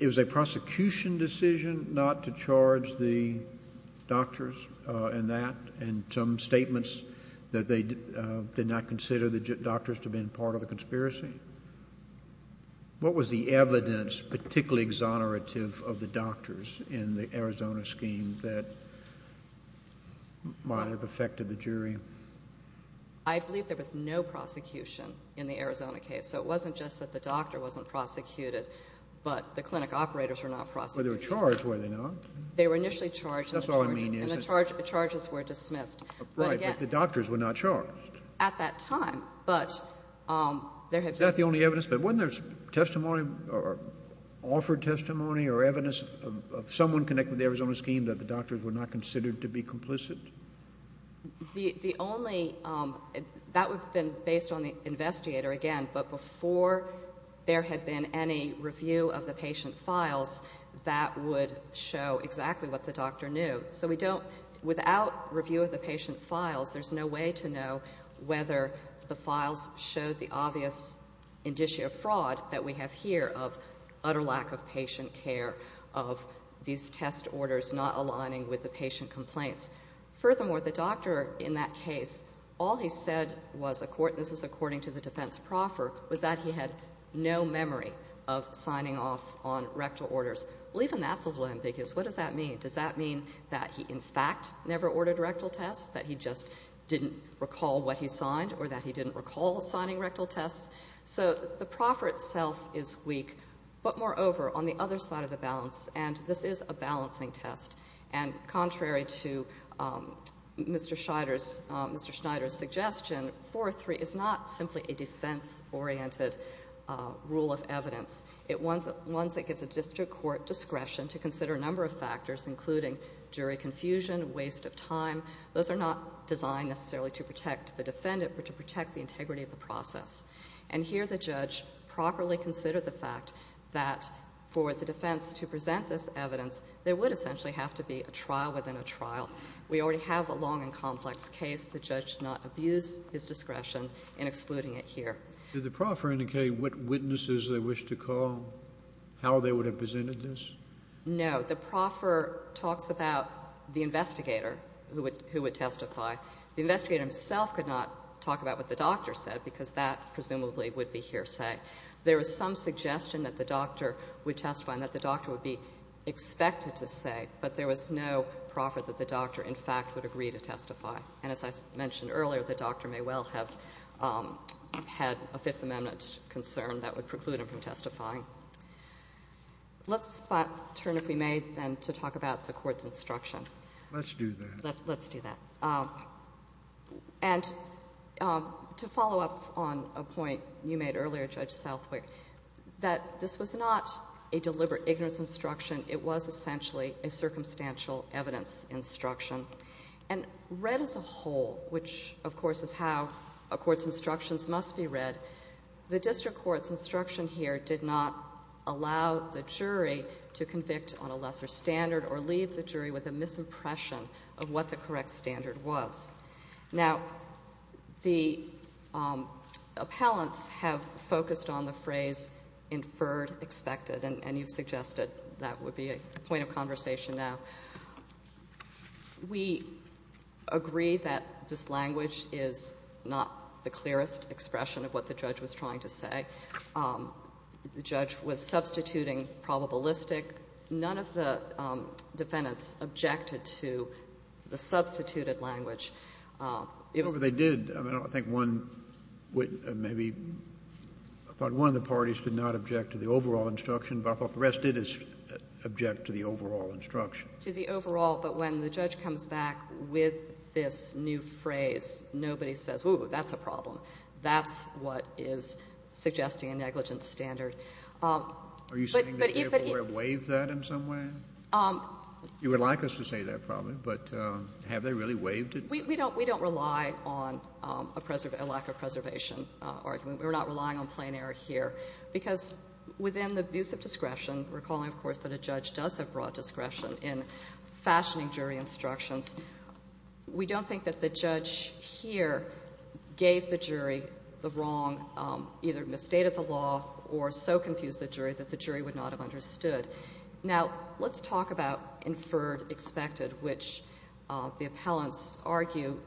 It was a prosecution decision not to charge the doctors in that, and some statements that they did not consider the doctors to have been part of the conspiracy. What was the evidence particularly exonerative of the doctors in the Arizona scheme that might have affected the jury? I believe there was no prosecution in the Arizona case. So it wasn't just that the doctor wasn't prosecuted, but the clinic operators were not prosecuted. But they were charged, were they not? They were initially charged, and the charges were dismissed. Right, but the doctors were not charged. At that time, but there had been— Is that the only evidence? But wasn't there testimony or offered testimony or evidence of someone connected to the Arizona scheme that the doctors were not considered to be complicit? The only—that would have been based on the investigator again, but before there had been any review of the patient's files, that would show exactly what the doctor knew. So we don't—without review of the patient's files, there's no way to know whether the files show the obvious indicia of fraud that we have here, of utter lack of patient care, of these test orders not aligning with the patient complaints. Furthermore, the doctor in that case, all he said was—this was according to the defense proffer— was that he had no memory of signing off on rectal orders. Leave him at the limb, because what does that mean? Does that mean that he in fact never ordered rectal tests, that he just didn't recall what he'd signed or that he didn't recall signing rectal tests? So the proffer itself is weak, but moreover, on the other side of the balance, and this is a balancing test. And contrary to Mr. Schneider's suggestion, 4.3 is not simply a defense-oriented rule of evidence. It's one that gives the district court discretion to consider a number of factors, including jury confusion, waste of time. Those are not designed necessarily to protect the defendant, but to protect the integrity of the process. And here the judge properly considered the fact that for the defense to present this evidence, there would essentially have to be a trial within a trial. We already have a long and complex case. The judge did not abuse his discretion in excluding it here. Did the proffer indicate what witnesses they wished to call, how they would have presented this? No. The proffer talked about the investigator who would testify. The investigator himself could not talk about what the doctor said, because that presumably would be hearsay. There is some suggestion that the doctor would testify and that the doctor would be expected to say, but there was no proffer that the doctor, in fact, would agree to testify. And as I mentioned earlier, the doctor may well have had a Fifth Amendment concern that would preclude him from testifying. Let's turn, if we may, to talk about the court's instruction. Let's do that. Let's do that. And to follow up on a point you made earlier, Judge Southwick, that this was not a deliberate ignorance instruction. It was essentially a circumstantial evidence instruction. And read as a whole, which, of course, is how a court's instructions must be read, the district court's instruction here did not allow the jury to convict on a lesser standard or leave the jury with a misimpression of what the correct standard was. Now, the appellants have focused on the phrase, inferred, expected, and you suggested that would be a point of conversation now. We agree that this language is not the clearest expression of what the judge was trying to say. The judge was substituting probabilistic. None of the defendants objected to the substituted language. They did. I mean, I think one, maybe, I thought one of the parties did not object to the overall instruction, but I thought the rest did object to the overall instruction. To the overall. But when the judge comes back with this new phrase, nobody says, ooh, that's a problem. That's what is suggesting a negligent standard. Are you saying that the appellant waived that in some way? You would like us to say that, probably, but have they really waived it? We don't rely on a lack of preservation argument. We're not relying on plain error here because within the abuse of discretion, recalling, of course, that a judge does have broad discretion in fashioning jury instructions, we don't think that the judge here gave the jury the wrong, either in the state of the law or so confused the jury that the jury would not have understood. Now, let's talk about inferred expected, which the appellants argue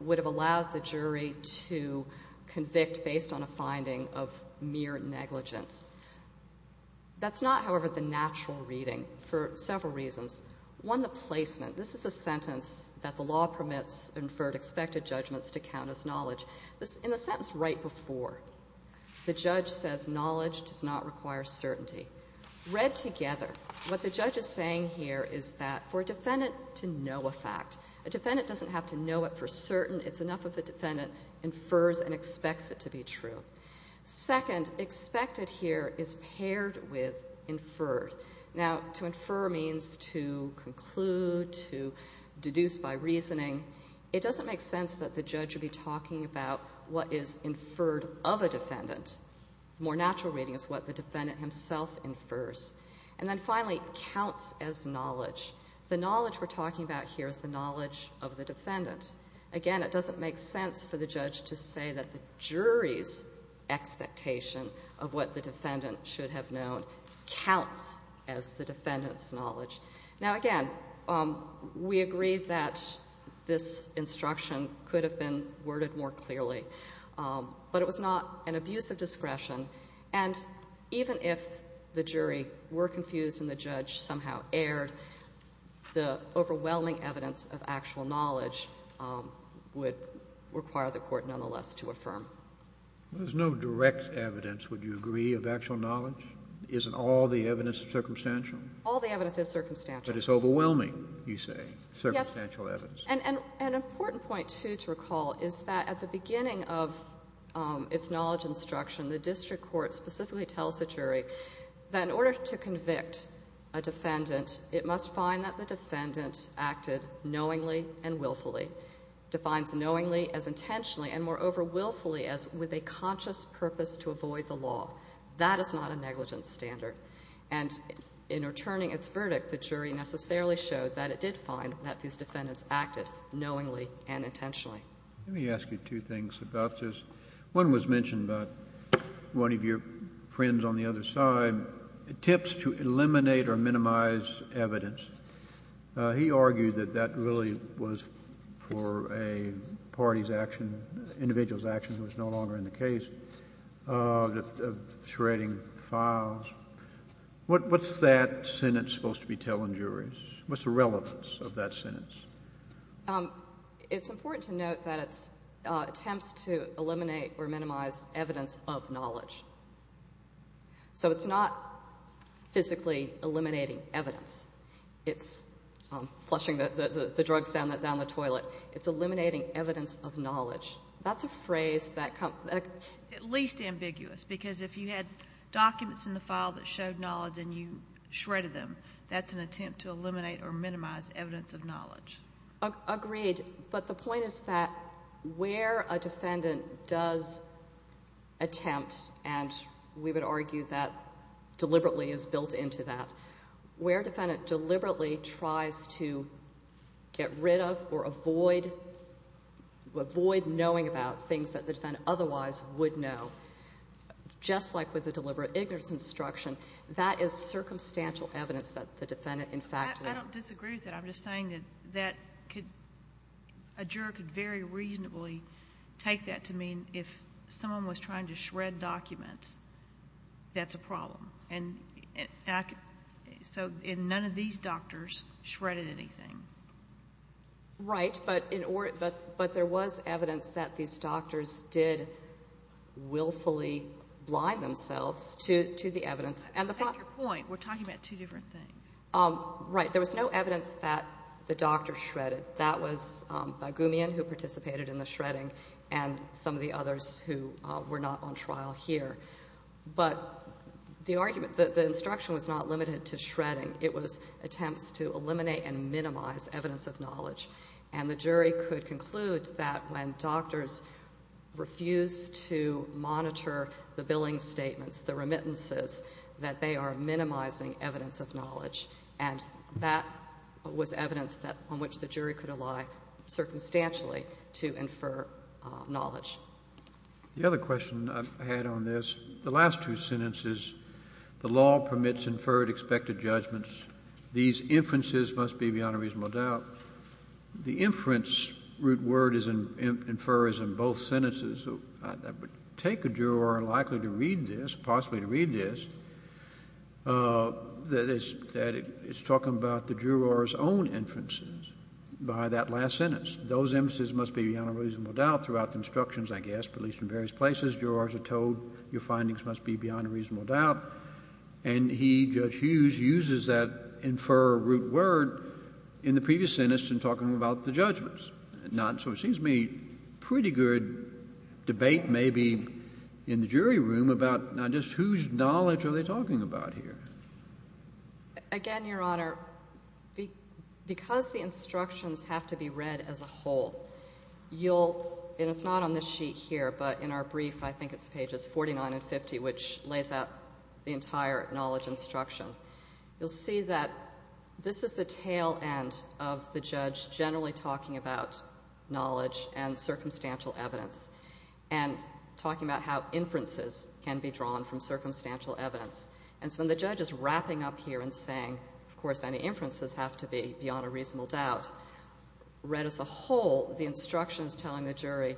would have allowed the jury to convict based on a finding of mere negligence. That's not, however, the natural reading for several reasons. One, the placement. This is a sentence that the law permits inferred expected judgments to count as knowledge. In the sentence right before, the judge says knowledge does not require certainty. Read together, what the judge is saying here is that for a defendant to know a fact, a defendant doesn't have to know it for certain. It's enough if the defendant infers and expects it to be true. Second, expected here is paired with inferred. Now, to infer means to conclude, to deduce by reasoning. It doesn't make sense that the judge would be talking about what is inferred of a defendant. The more natural reading is what the defendant himself infers. And then finally, counts as knowledge. The knowledge we're talking about here is the knowledge of the defendant. Again, it doesn't make sense for the judge to say that the jury's expectation of what the defendant should have known counts as the defendant's knowledge. Now, again, we agree that this instruction could have been worded more clearly. But it was not an abuse of discretion. And even if the jury were confused and the judge somehow erred, the overwhelming evidence of actual knowledge would require the court, nonetheless, to affirm. There's no direct evidence, would you agree, of actual knowledge? Isn't all the evidence circumstantial? All the evidence is circumstantial. But it's overwhelming, you say, circumstantial evidence. Yes. And an important point, too, to recall is that at the beginning of its knowledge instruction, the district court specifically tells the jury that in order to convict a defendant, it must find that the defendant acted knowingly and willfully. Defines knowingly as intentionally and more overwhelmingly as with a conscious purpose to avoid the law. That is not a negligence standard. And in returning its verdict, the jury necessarily showed that it did find that these defendants acted knowingly and intentionally. Let me ask you two things about this. One was mentioned by one of your friends on the other side, tips to eliminate or minimize evidence. He argued that that really was for a party's action, individual's action who was no longer in the case, shredding files. What's that sentence supposed to be telling juries? What's the relevance of that sentence? It's important to note that it attempts to eliminate or minimize evidence of knowledge. So it's not physically eliminating evidence. It's flushing the drugs down the toilet. It's eliminating evidence of knowledge. That's a phrase that comes up. At least ambiguous because if you had documents in the file that showed knowledge and you shredded them, that's an attempt to eliminate or minimize evidence of knowledge. Agreed. But the point is that where a defendant does attempt, and we would argue that deliberately is built into that, where a defendant deliberately tries to get rid of or avoid knowing about things that the defendant otherwise would know, just like with the deliberate ignorance instruction, that is circumstantial evidence that the defendant, in fact, I don't disagree with that. I'm just saying that a juror could very reasonably take that to mean if someone was trying to shred documents, that's a problem. So none of these doctors shredded anything. Right, but there was evidence that these doctors did willfully blind themselves to the evidence. That's your point. We're talking about two different things. Right. There was no evidence that the doctor shredded. That was Bagumian who participated in the shredding and some of the others who were not on trial here. But the argument, the instruction was not limited to shredding. It was attempts to eliminate and minimize evidence of knowledge. And the jury could conclude that when doctors refused to monitor the billing statements, the remittances, that they are minimizing evidence of knowledge. And that was evidence on which the jury could rely circumstantially to infer knowledge. The other question I had on this, the last two sentences, the law permits inferred expected judgments. These inferences must be beyond a reasonable doubt. The inference root word infer is in both sentences. I would take a juror likely to read this, possibly to read this, that is talking about the juror's own inferences by that last sentence. Those inferences must be beyond a reasonable doubt throughout the instructions, I guess, at least in various places. Jurors are told your findings must be beyond reasonable doubt. And he, Judge Hughes, uses that infer root word in the previous sentence in talking about the judgments. So it seems to me a pretty good debate maybe in the jury room about just whose knowledge are they talking about here. Again, Your Honor, because the instructions have to be read as a whole, you'll, and it's not on this sheet here, but in our brief, I think it's pages 49 and 50, which lays out the entire knowledge instruction. You'll see that this is the tail end of the judge generally talking about knowledge and circumstantial evidence and talking about how inferences can be drawn from circumstantial evidence. And so when the judge is wrapping up here and saying, of course, any inferences have to be beyond a reasonable doubt, read as a whole, the instruction is telling the jury,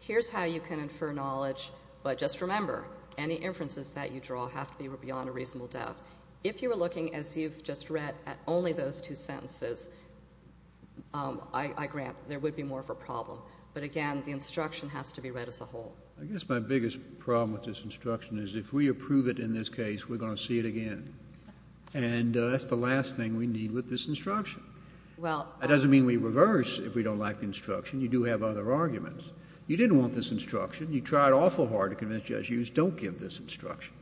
here's how you can infer knowledge, but just remember, any inferences that you draw have to be beyond a reasonable doubt. If you were looking, as you've just read, at only those two sentences, I grant there would be more of a problem. But again, the instruction has to be read as a whole. I guess my biggest problem with this instruction is if we approve it in this case, we're going to see it again. That doesn't mean we reverse if we don't like the instruction. You do have other arguments. You didn't want this instruction. You tried awful hard to convince judges, don't give this instruction.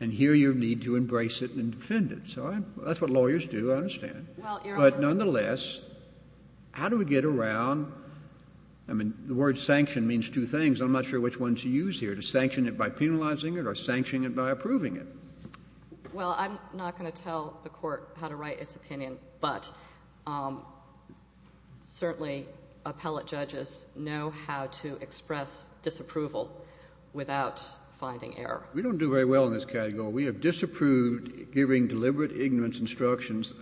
And here you need to embrace it and defend it. So that's what lawyers do, I understand. But nonetheless, how do we get around, I mean, the word sanction means two things. I'm not sure which one to use here, to sanction it by penalizing it or sanctioning it by approving it. Well, I'm not going to tell the court how to write its opinion, but certainly appellate judges know how to express disapproval without finding error. We don't do very well in this category. We have disapproved giving deliberate ignorance instructions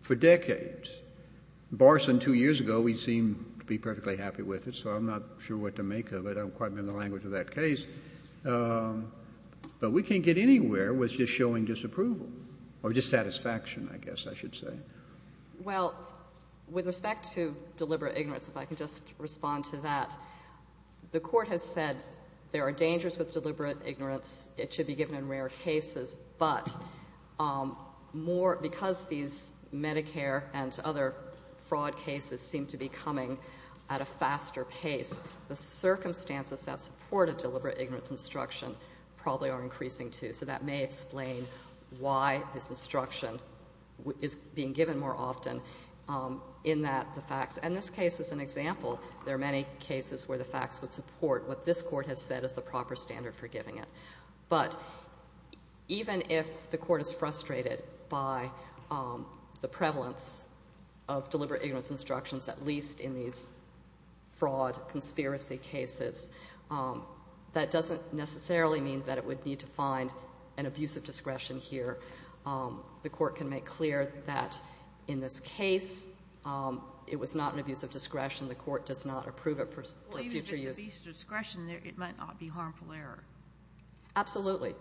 for decades. Barson, two years ago, we seemed to be perfectly happy with it, so I'm not sure what to make of it. I'm quite new to the language of that case. But we can't get anywhere with just showing disapproval or dissatisfaction, I guess I should say. Well, with respect to deliberate ignorance, if I could just respond to that, the court has said there are dangers with deliberate ignorance. It should be given in rare cases. But because these Medicare and other fraud cases seem to be coming at a faster pace, the circumstances that support a deliberate ignorance instruction probably are increasing too. So that may explain why this instruction is being given more often in that the facts. And this case is an example. There are many cases where the facts would support what this court has said is the proper standard for giving it. But even if the court is frustrated by the prevalence of deliberate ignorance instructions, at least in these fraud conspiracy cases, that doesn't necessarily mean that it would need to find an abuse of discretion here. The court can make clear that in this case it was not an abuse of discretion. The court does not approve it for future use. Well, even if it's abuse of discretion, it might not be harmful error. Absolutely.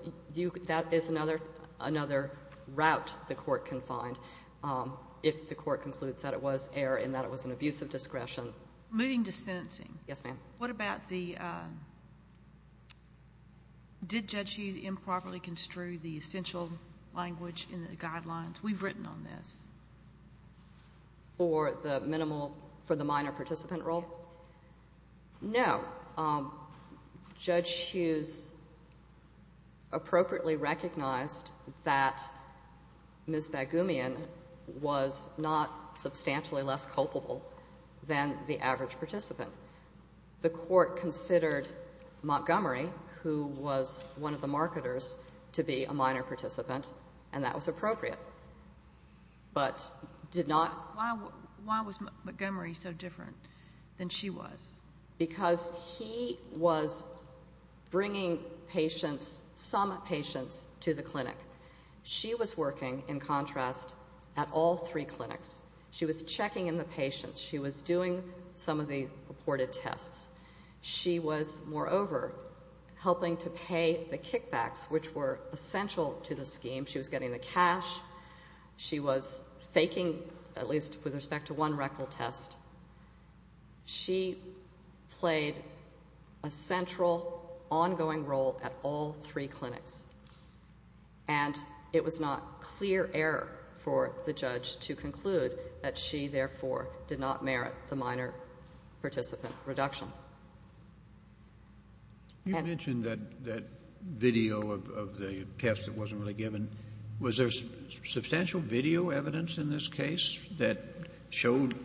That is another route the court can find if the court concludes that it was error and that it was an abuse of discretion. Moving to sentencing. Yes, ma'am. What about the, did Judge Hughes improperly construe the essential language in the guidelines? We've written on this. For the minimal, for the minor participant role? No. Judge Hughes appropriately recognized that Ms. Baghoumian was not substantially less culpable than the average participant. The court considered Montgomery, who was one of the marketers, to be a minor participant, and that was appropriate, but did not. Why was Montgomery so different than she was? Because he was bringing patients, some patients, to the clinic. She was working, in contrast, at all three clinics. She was checking in the patients. She was doing some of the reported tests. She was, moreover, helping to pay the kickbacks, which were essential to the scheme. She was getting the cash. She was faking, at least with respect to one rectal test. She played a central, ongoing role at all three clinics. And it was not clear error for the judge to conclude that she, therefore, did not merit the minor participant reduction. You mentioned that video of the test that wasn't really given. Was there substantial video evidence in this case that showed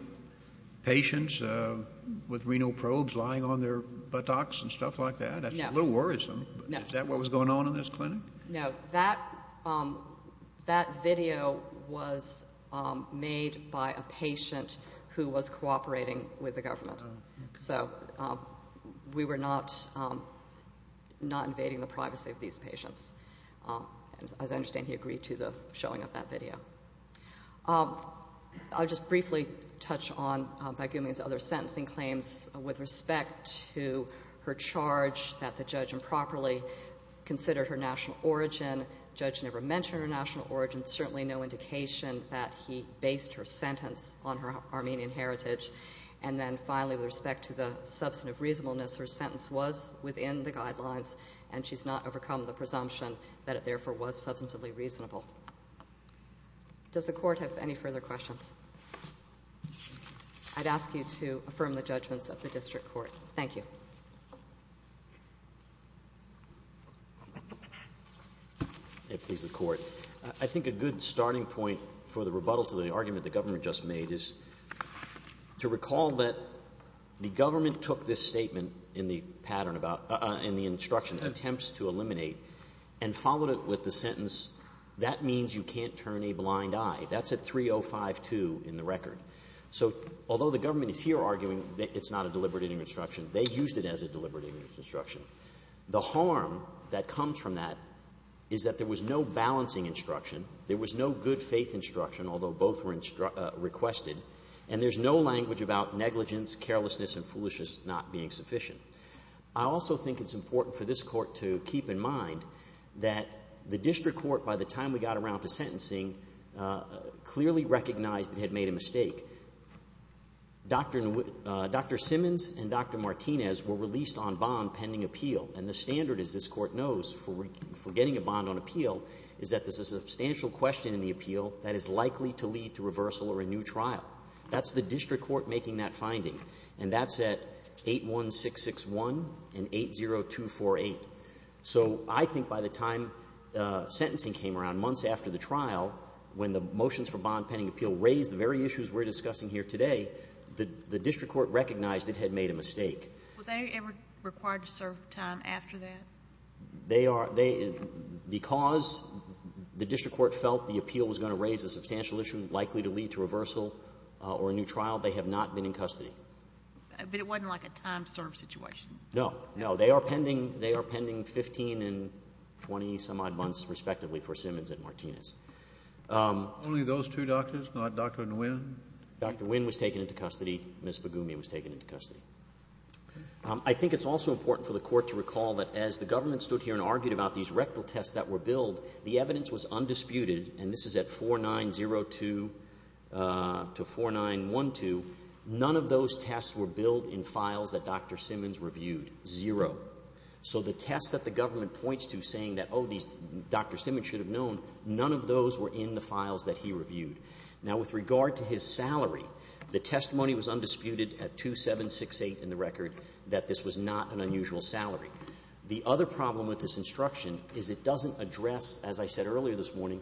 patients with renal probes lying on their buttocks and stuff like that? That's a little worrisome, but is that what was going on in this clinic? No. That video was made by a patient who was cooperating with the government. So we were not invading the privacy of these patients. As I understand, he agreed to the showing of that video. I'll just briefly touch on, by giving these other sentencing claims, with respect to her charge that the judge improperly considered her national origin. The judge never mentioned her national origin, certainly no indication that he based her sentence on her Armenian heritage. And then finally, with respect to the substantive reasonableness, her sentence was within the guidelines, and she's not overcome the presumption that it, therefore, was substantively reasonable. Does the court have any further questions? I'd ask you to affirm the judgment of the district court. Thank you. Thank you, Mr. Court. I think a good starting point for the rebuttal to the argument the governor just made is to recall that the government took this statement in the instruction, attempts to eliminate, and followed it with the sentence, that means you can't turn a blind eye. That's at 3052 in the record. So although the government is here arguing that it's not a deliberative instruction, they used it as a deliberative instruction. The harm that comes from that is that there was no balancing instruction, there was no good faith instruction, although both were requested, and there's no language about negligence, carelessness, and foolishness not being sufficient. I also think it's important for this court to keep in mind that the district court, by the time we got around to sentencing, clearly recognized and had made a mistake. Dr. Simmons and Dr. Martinez were released on bond pending appeal, and the standard, as this court knows, for getting a bond on appeal, is that there's a substantial question in the appeal that is likely to lead to reversal or a new trial. That's the district court making that finding, and that's at 81661 and 80248. So I think by the time sentencing came around, months after the trial, when the motions for bond pending appeal raised the very issues we're discussing here today, the district court recognized it had made a mistake. Were they ever required to serve time after that? Because the district court felt the appeal was going to raise a substantial issue likely to lead to reversal or a new trial, they have not been in custody. But it wasn't like a time-served situation? No, no. They are pending 15 and 20-some-odd months, respectively, for Simmons and Martinez. Only those two doctors, not Dr. Nguyen? Dr. Nguyen was taken into custody. Ms. Begumia was taken into custody. I think it's also important for the court to recall that as the government stood here and argued about these rectal tests that were billed, the evidence was undisputed, and this is at 4902 to 4912. None of those tests were billed in files that Dr. Simmons reviewed. Zero. So the test that the government points to saying that, oh, Dr. Simmons should have known, none of those were in the files that he reviewed. Now, with regard to his salary, the testimony was undisputed at 2768 in the record that this was not an unusual salary. The other problem with this instruction is it doesn't address, as I said earlier this morning,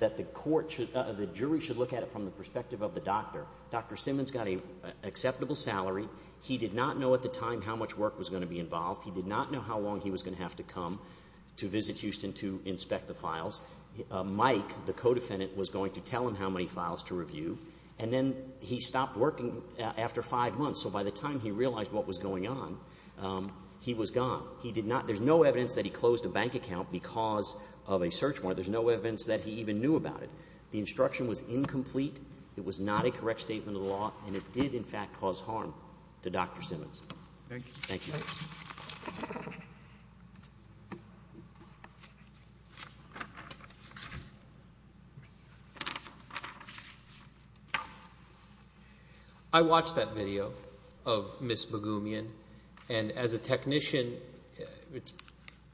that the jury should look at it from the perspective of the doctor. Dr. Simmons got an acceptable salary. He did not know at the time how much work was going to be involved. He did not know how long he was going to have to come to visit Houston to inspect the files. Mike, the co-defendant, was going to tell him how many files to review, and then he stopped working after five months. So by the time he realized what was going on, he was gone. There's no evidence that he closed a bank account because of a search warrant. There's no evidence that he even knew about it. The instruction was incomplete. It was not a correct statement of the law, and it did, in fact, cause harm to Dr. Simmons. Thank you. I watched that video of Ms. Bagumian, and as a technician, it's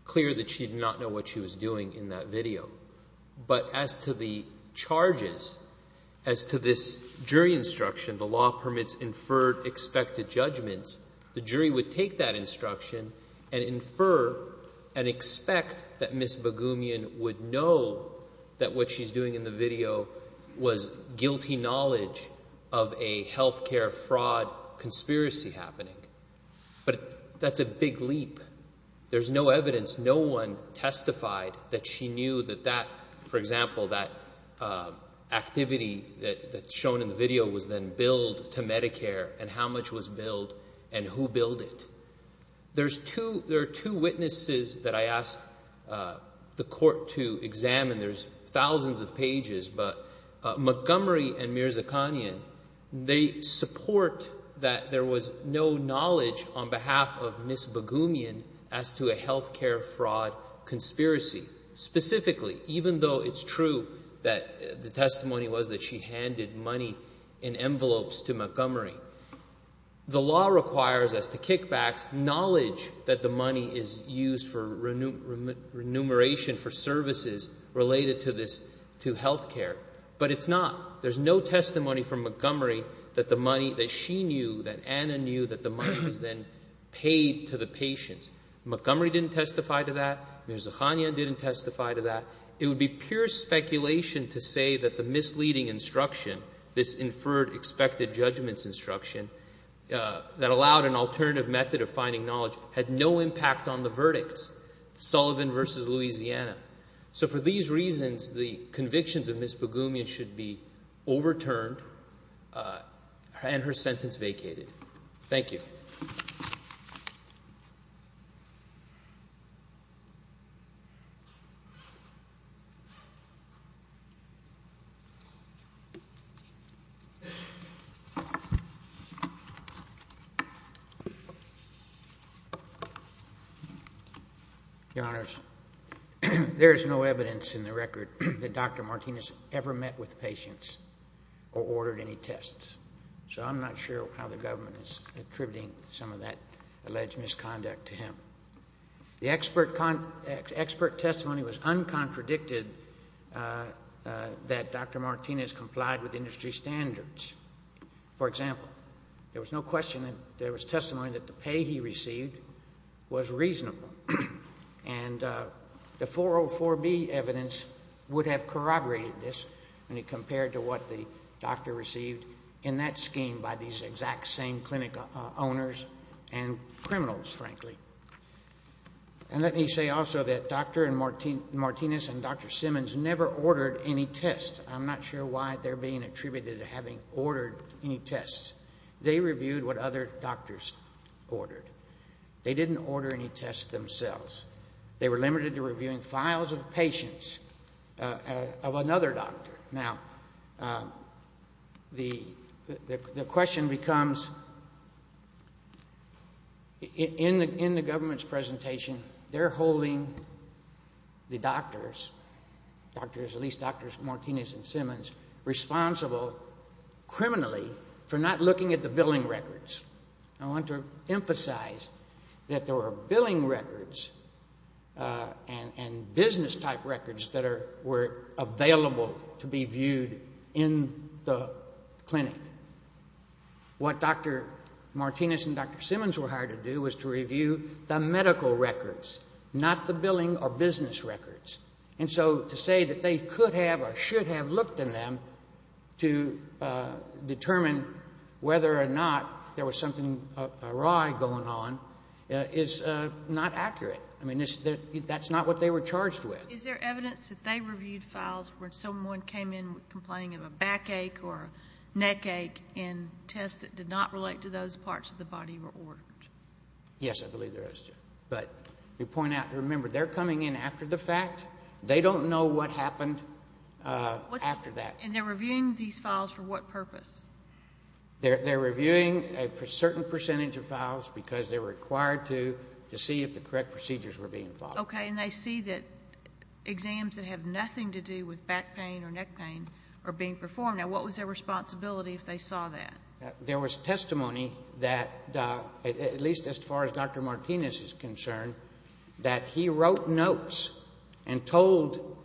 clear that she did not know what she was doing in that video. But as to the charges, as to this jury instruction, the law permits inferred expected judgments, the jury would take that instruction and infer and expect that Ms. Bagumian would know that what she's doing in the video was guilty knowledge of a health care fraud conspiracy happening. But that's a big leap. There's no evidence. No one testified that she knew that that, for example, that activity that's shown in the video was then billed to Medicare and how much was billed and who billed it. There are two witnesses that I asked the court to examine. There's thousands of pages, but Montgomery and Mirzakhanian, they support that there was no knowledge on behalf of Ms. Bagumian as to a health care fraud conspiracy. Specifically, even though it's true that the testimony was that she handed money in envelopes to Montgomery, the law requires us to kick back knowledge that the money is used for remuneration for services related to health care. But it's not. There's no testimony from Montgomery that the money that she knew, that Anna knew, that the money was then paid to the patients. Montgomery didn't testify to that. Mirzakhanian didn't testify to that. It would be pure speculation to say that the misleading instruction, this inferred expected judgments instruction, that allowed an alternative method of finding knowledge had no impact on the verdicts, Sullivan versus Louisiana. So for these reasons, the convictions of Ms. Bagumian should be overturned and her sentence vacated. Thank you. Your Honor, there is no evidence in the record that Dr. Martinez ever met with patients or ordered any tests. So I'm not sure how the government is attributing some of that alleged misconduct to him. The expert testimony was uncontradicted that Dr. Martinez complied with industry standards. For example, there was no question that there was testimony that the pay he received was reasonable. And the 404B evidence would have corroborated this when you compared to what the doctor received in that scheme by these exact same clinic owners and criminals, frankly. And let me say also that Dr. Martinez and Dr. Simmons never ordered any tests. I'm not sure why they're being attributed to having ordered any tests. They reviewed what other doctors ordered. They didn't order any tests themselves. They were limited to reviewing files of patients of another doctor. Now, the question becomes, in the government's presentation, they're holding the doctors, at least Drs. Martinez and Simmons, responsible criminally for not looking at the billing records. I want to emphasize that there were billing records and business-type records that were available to be viewed in the clinic. What Dr. Martinez and Dr. Simmons were hired to do was to review the medical records, not the billing or business records. And so to say that they could have or should have looked in them to determine whether or not there was something awry going on is not accurate. I mean, that's not what they were charged with. Is there evidence that they reviewed files where someone came in complaining of a backache or neckache in tests that did not relate to those parts of the body that were ordered? Yes, I believe there is. But remember, they're coming in after the fact. They don't know what happened after that. And they're reviewing these files for what purpose? They're reviewing a certain percentage of files because they're required to, to see if the correct procedures were being followed. Okay, and they see that exams that have nothing to do with back pain or neck pain are being performed. Now, what was their responsibility if they saw that? There was testimony that, at least as far as Dr. Martinez is concerned, that he wrote notes and told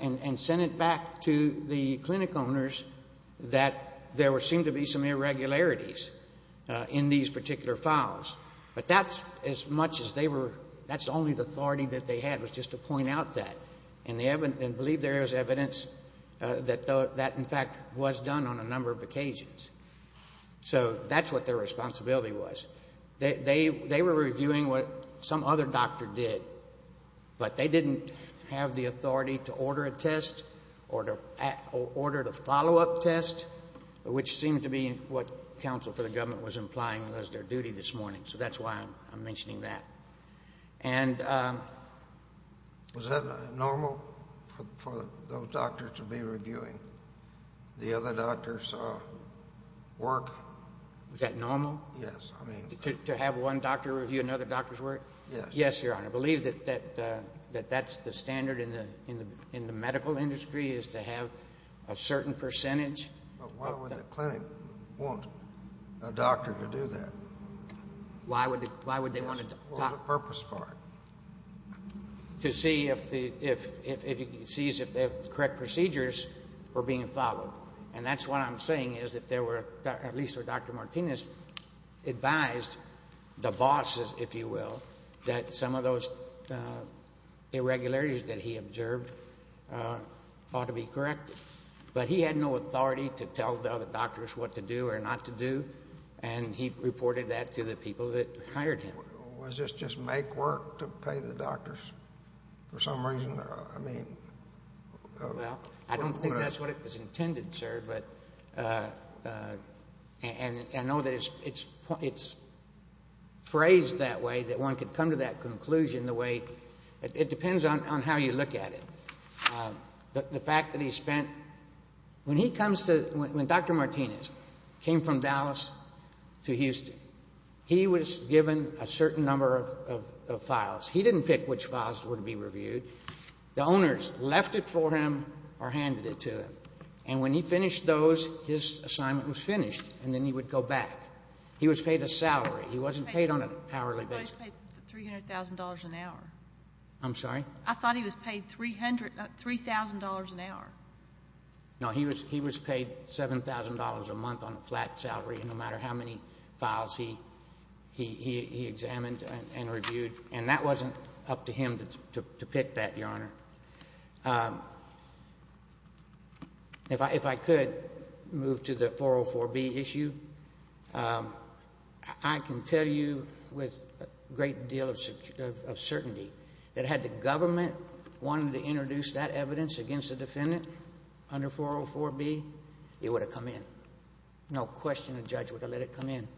and sent it back to the clinic owners that there seemed to be some irregularities in these particular files. But that's as much as they were, that's only the authority that they had was just to point out that. And I believe there is evidence that that, in fact, was done on a number of occasions. So that's what their responsibility was. They were reviewing what some other doctor did, but they didn't have the authority to order a test or to order a follow-up test, which seemed to be what counsel to the government was implying was their duty this morning. So that's why I'm mentioning that. And was that normal for those doctors to be reviewing the other doctor's work? Is that normal? Yes. To have one doctor review another doctor's work? Yes. Yes, Your Honor. I believe that that's the standard in the medical industry is to have a certain percentage. But why would a clinic want a doctor to do that? Why would they want a doctor to see if the correct procedures were being followed? And that's what I'm saying is that there were, at least Dr. Martinez advised the bosses, if you will, that some of those irregularities that he observed ought to be corrected. But he had no authority to tell the other doctors what to do or not to do, and he reported that to the people that hired him. Was this just make work to pay the doctors for some reason? Well, I don't think that's what it was intended, sir. And I know that it's phrased that way, that one could come to that conclusion the way it depends on how you look at it. But the fact that he spent, when he comes to, when Dr. Martinez came from Dallas to Houston, he was given a certain number of files. He didn't pick which files would be reviewed. The owners left it for him or handed it to him. And when he finished those, his assignment was finished, and then he would go back. He was paid a salary. He wasn't paid on an hourly basis. I just paid $300,000 an hour. I'm sorry? I thought he was paid $3,000 an hour. No, he was paid $7,000 a month on a flat salary, no matter how many files he examined and reviewed. And that wasn't up to him to pick that, Your Honor. If I could move to the 404B issue, I can tell you with a great deal of certainty that had the government wanted to introduce that evidence against the defendant under 404B, it would have come in. No question the judge would have let it come in.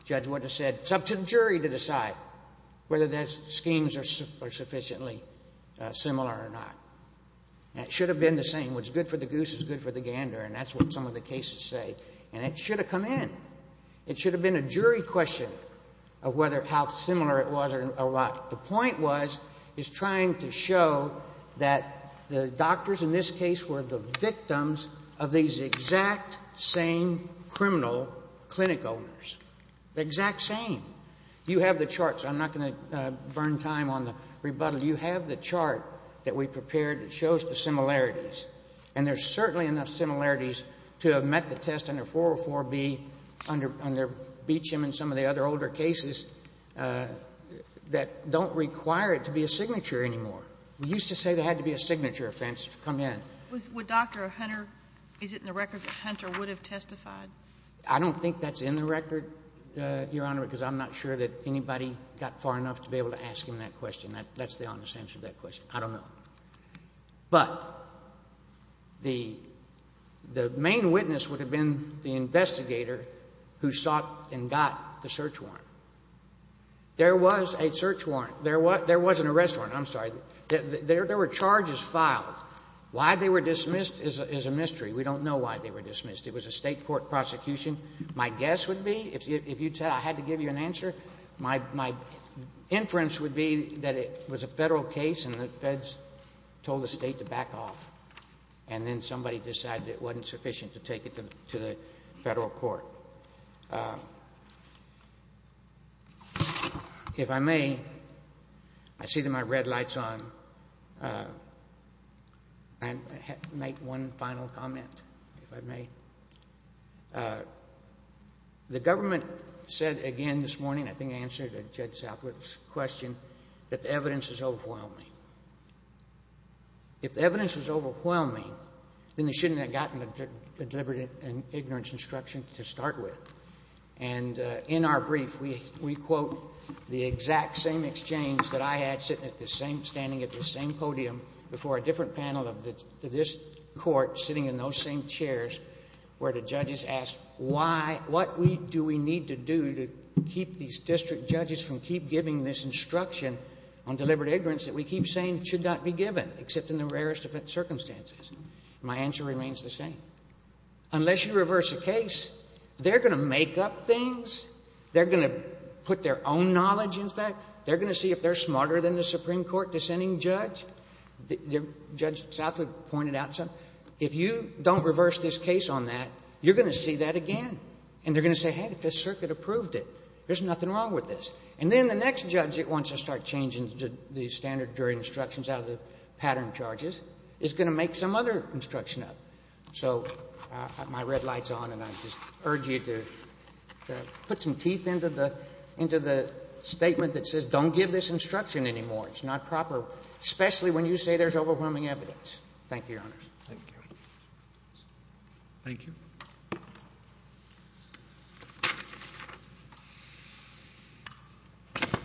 The judge would have said, it's up to the jury to decide whether those schemes are sufficiently similar or not. And it should have been the same. What's good for the goose is good for the gander, and that's what some of the cases say. And it should have come in. It should have been a jury question of whether how similar it was or not. The point was, is trying to show that the doctors in this case were the victims of these exact same criminal clinic owners. The exact same. You have the charts. I'm not going to burn time on the rebuttal. You have the chart that we prepared that shows the similarities. And there's certainly enough similarities to have met the test under 404B, under Beecham and some of the other older cases, that don't require it to be a signature anymore. We used to say there had to be a signature offense to come in. Would Dr. Hunter, is it in the record that Hunter would have testified? I don't think that's in the record, Your Honor, because I'm not sure that anybody got far enough to be able to ask him that question. That's the honest answer to that question. I don't know. But the main witness would have been the investigator who sought and got the search warrant. There was a search warrant. There wasn't an arrest warrant. I'm sorry. There were charges filed. Why they were dismissed is a mystery. We don't know why they were dismissed. It was a state court prosecution. My guess would be, if I had to give you an answer, my inference would be that it was a federal case and the feds told the state to back off. And then somebody decided it wasn't sufficient to take it to the federal court. So, if I may, I see that my red light's on. I have to make one final comment, if I may. The government said again this morning, I think it answered Jed Sapler's question, that the evidence is overwhelming. If the evidence is overwhelming, then they shouldn't have gotten the deliberate ignorance instruction to start with. And in our brief, we quote the exact same exchange that I had sitting at the same podium before a different panel of this court, sitting in those same chairs, where the judges asked, what do we need to do to keep these district judges from keep giving this instruction on deliberate ignorance that we keep saying should not be given, except in the rarest of circumstances? My answer remains the same. Unless you reverse a case, they're going to make up things. They're going to put their own knowledge into that. They're going to see if they're smarter than the Supreme Court dissenting judge. Judge Sapler pointed out something. If you don't reverse this case on that, you're going to see that again. And they're going to say, hey, the circuit approved it. There's nothing wrong with this. And then the next judge that wants to start changing the standard jury instructions out of the pattern charges is going to make some other instruction up. So, my red light's on, and I just urge you to put some teeth into the statement that says don't give this instruction anymore. It's not proper, especially when you say there's overwhelming evidence. Thank you, Your Honor. Thank you. Thank you.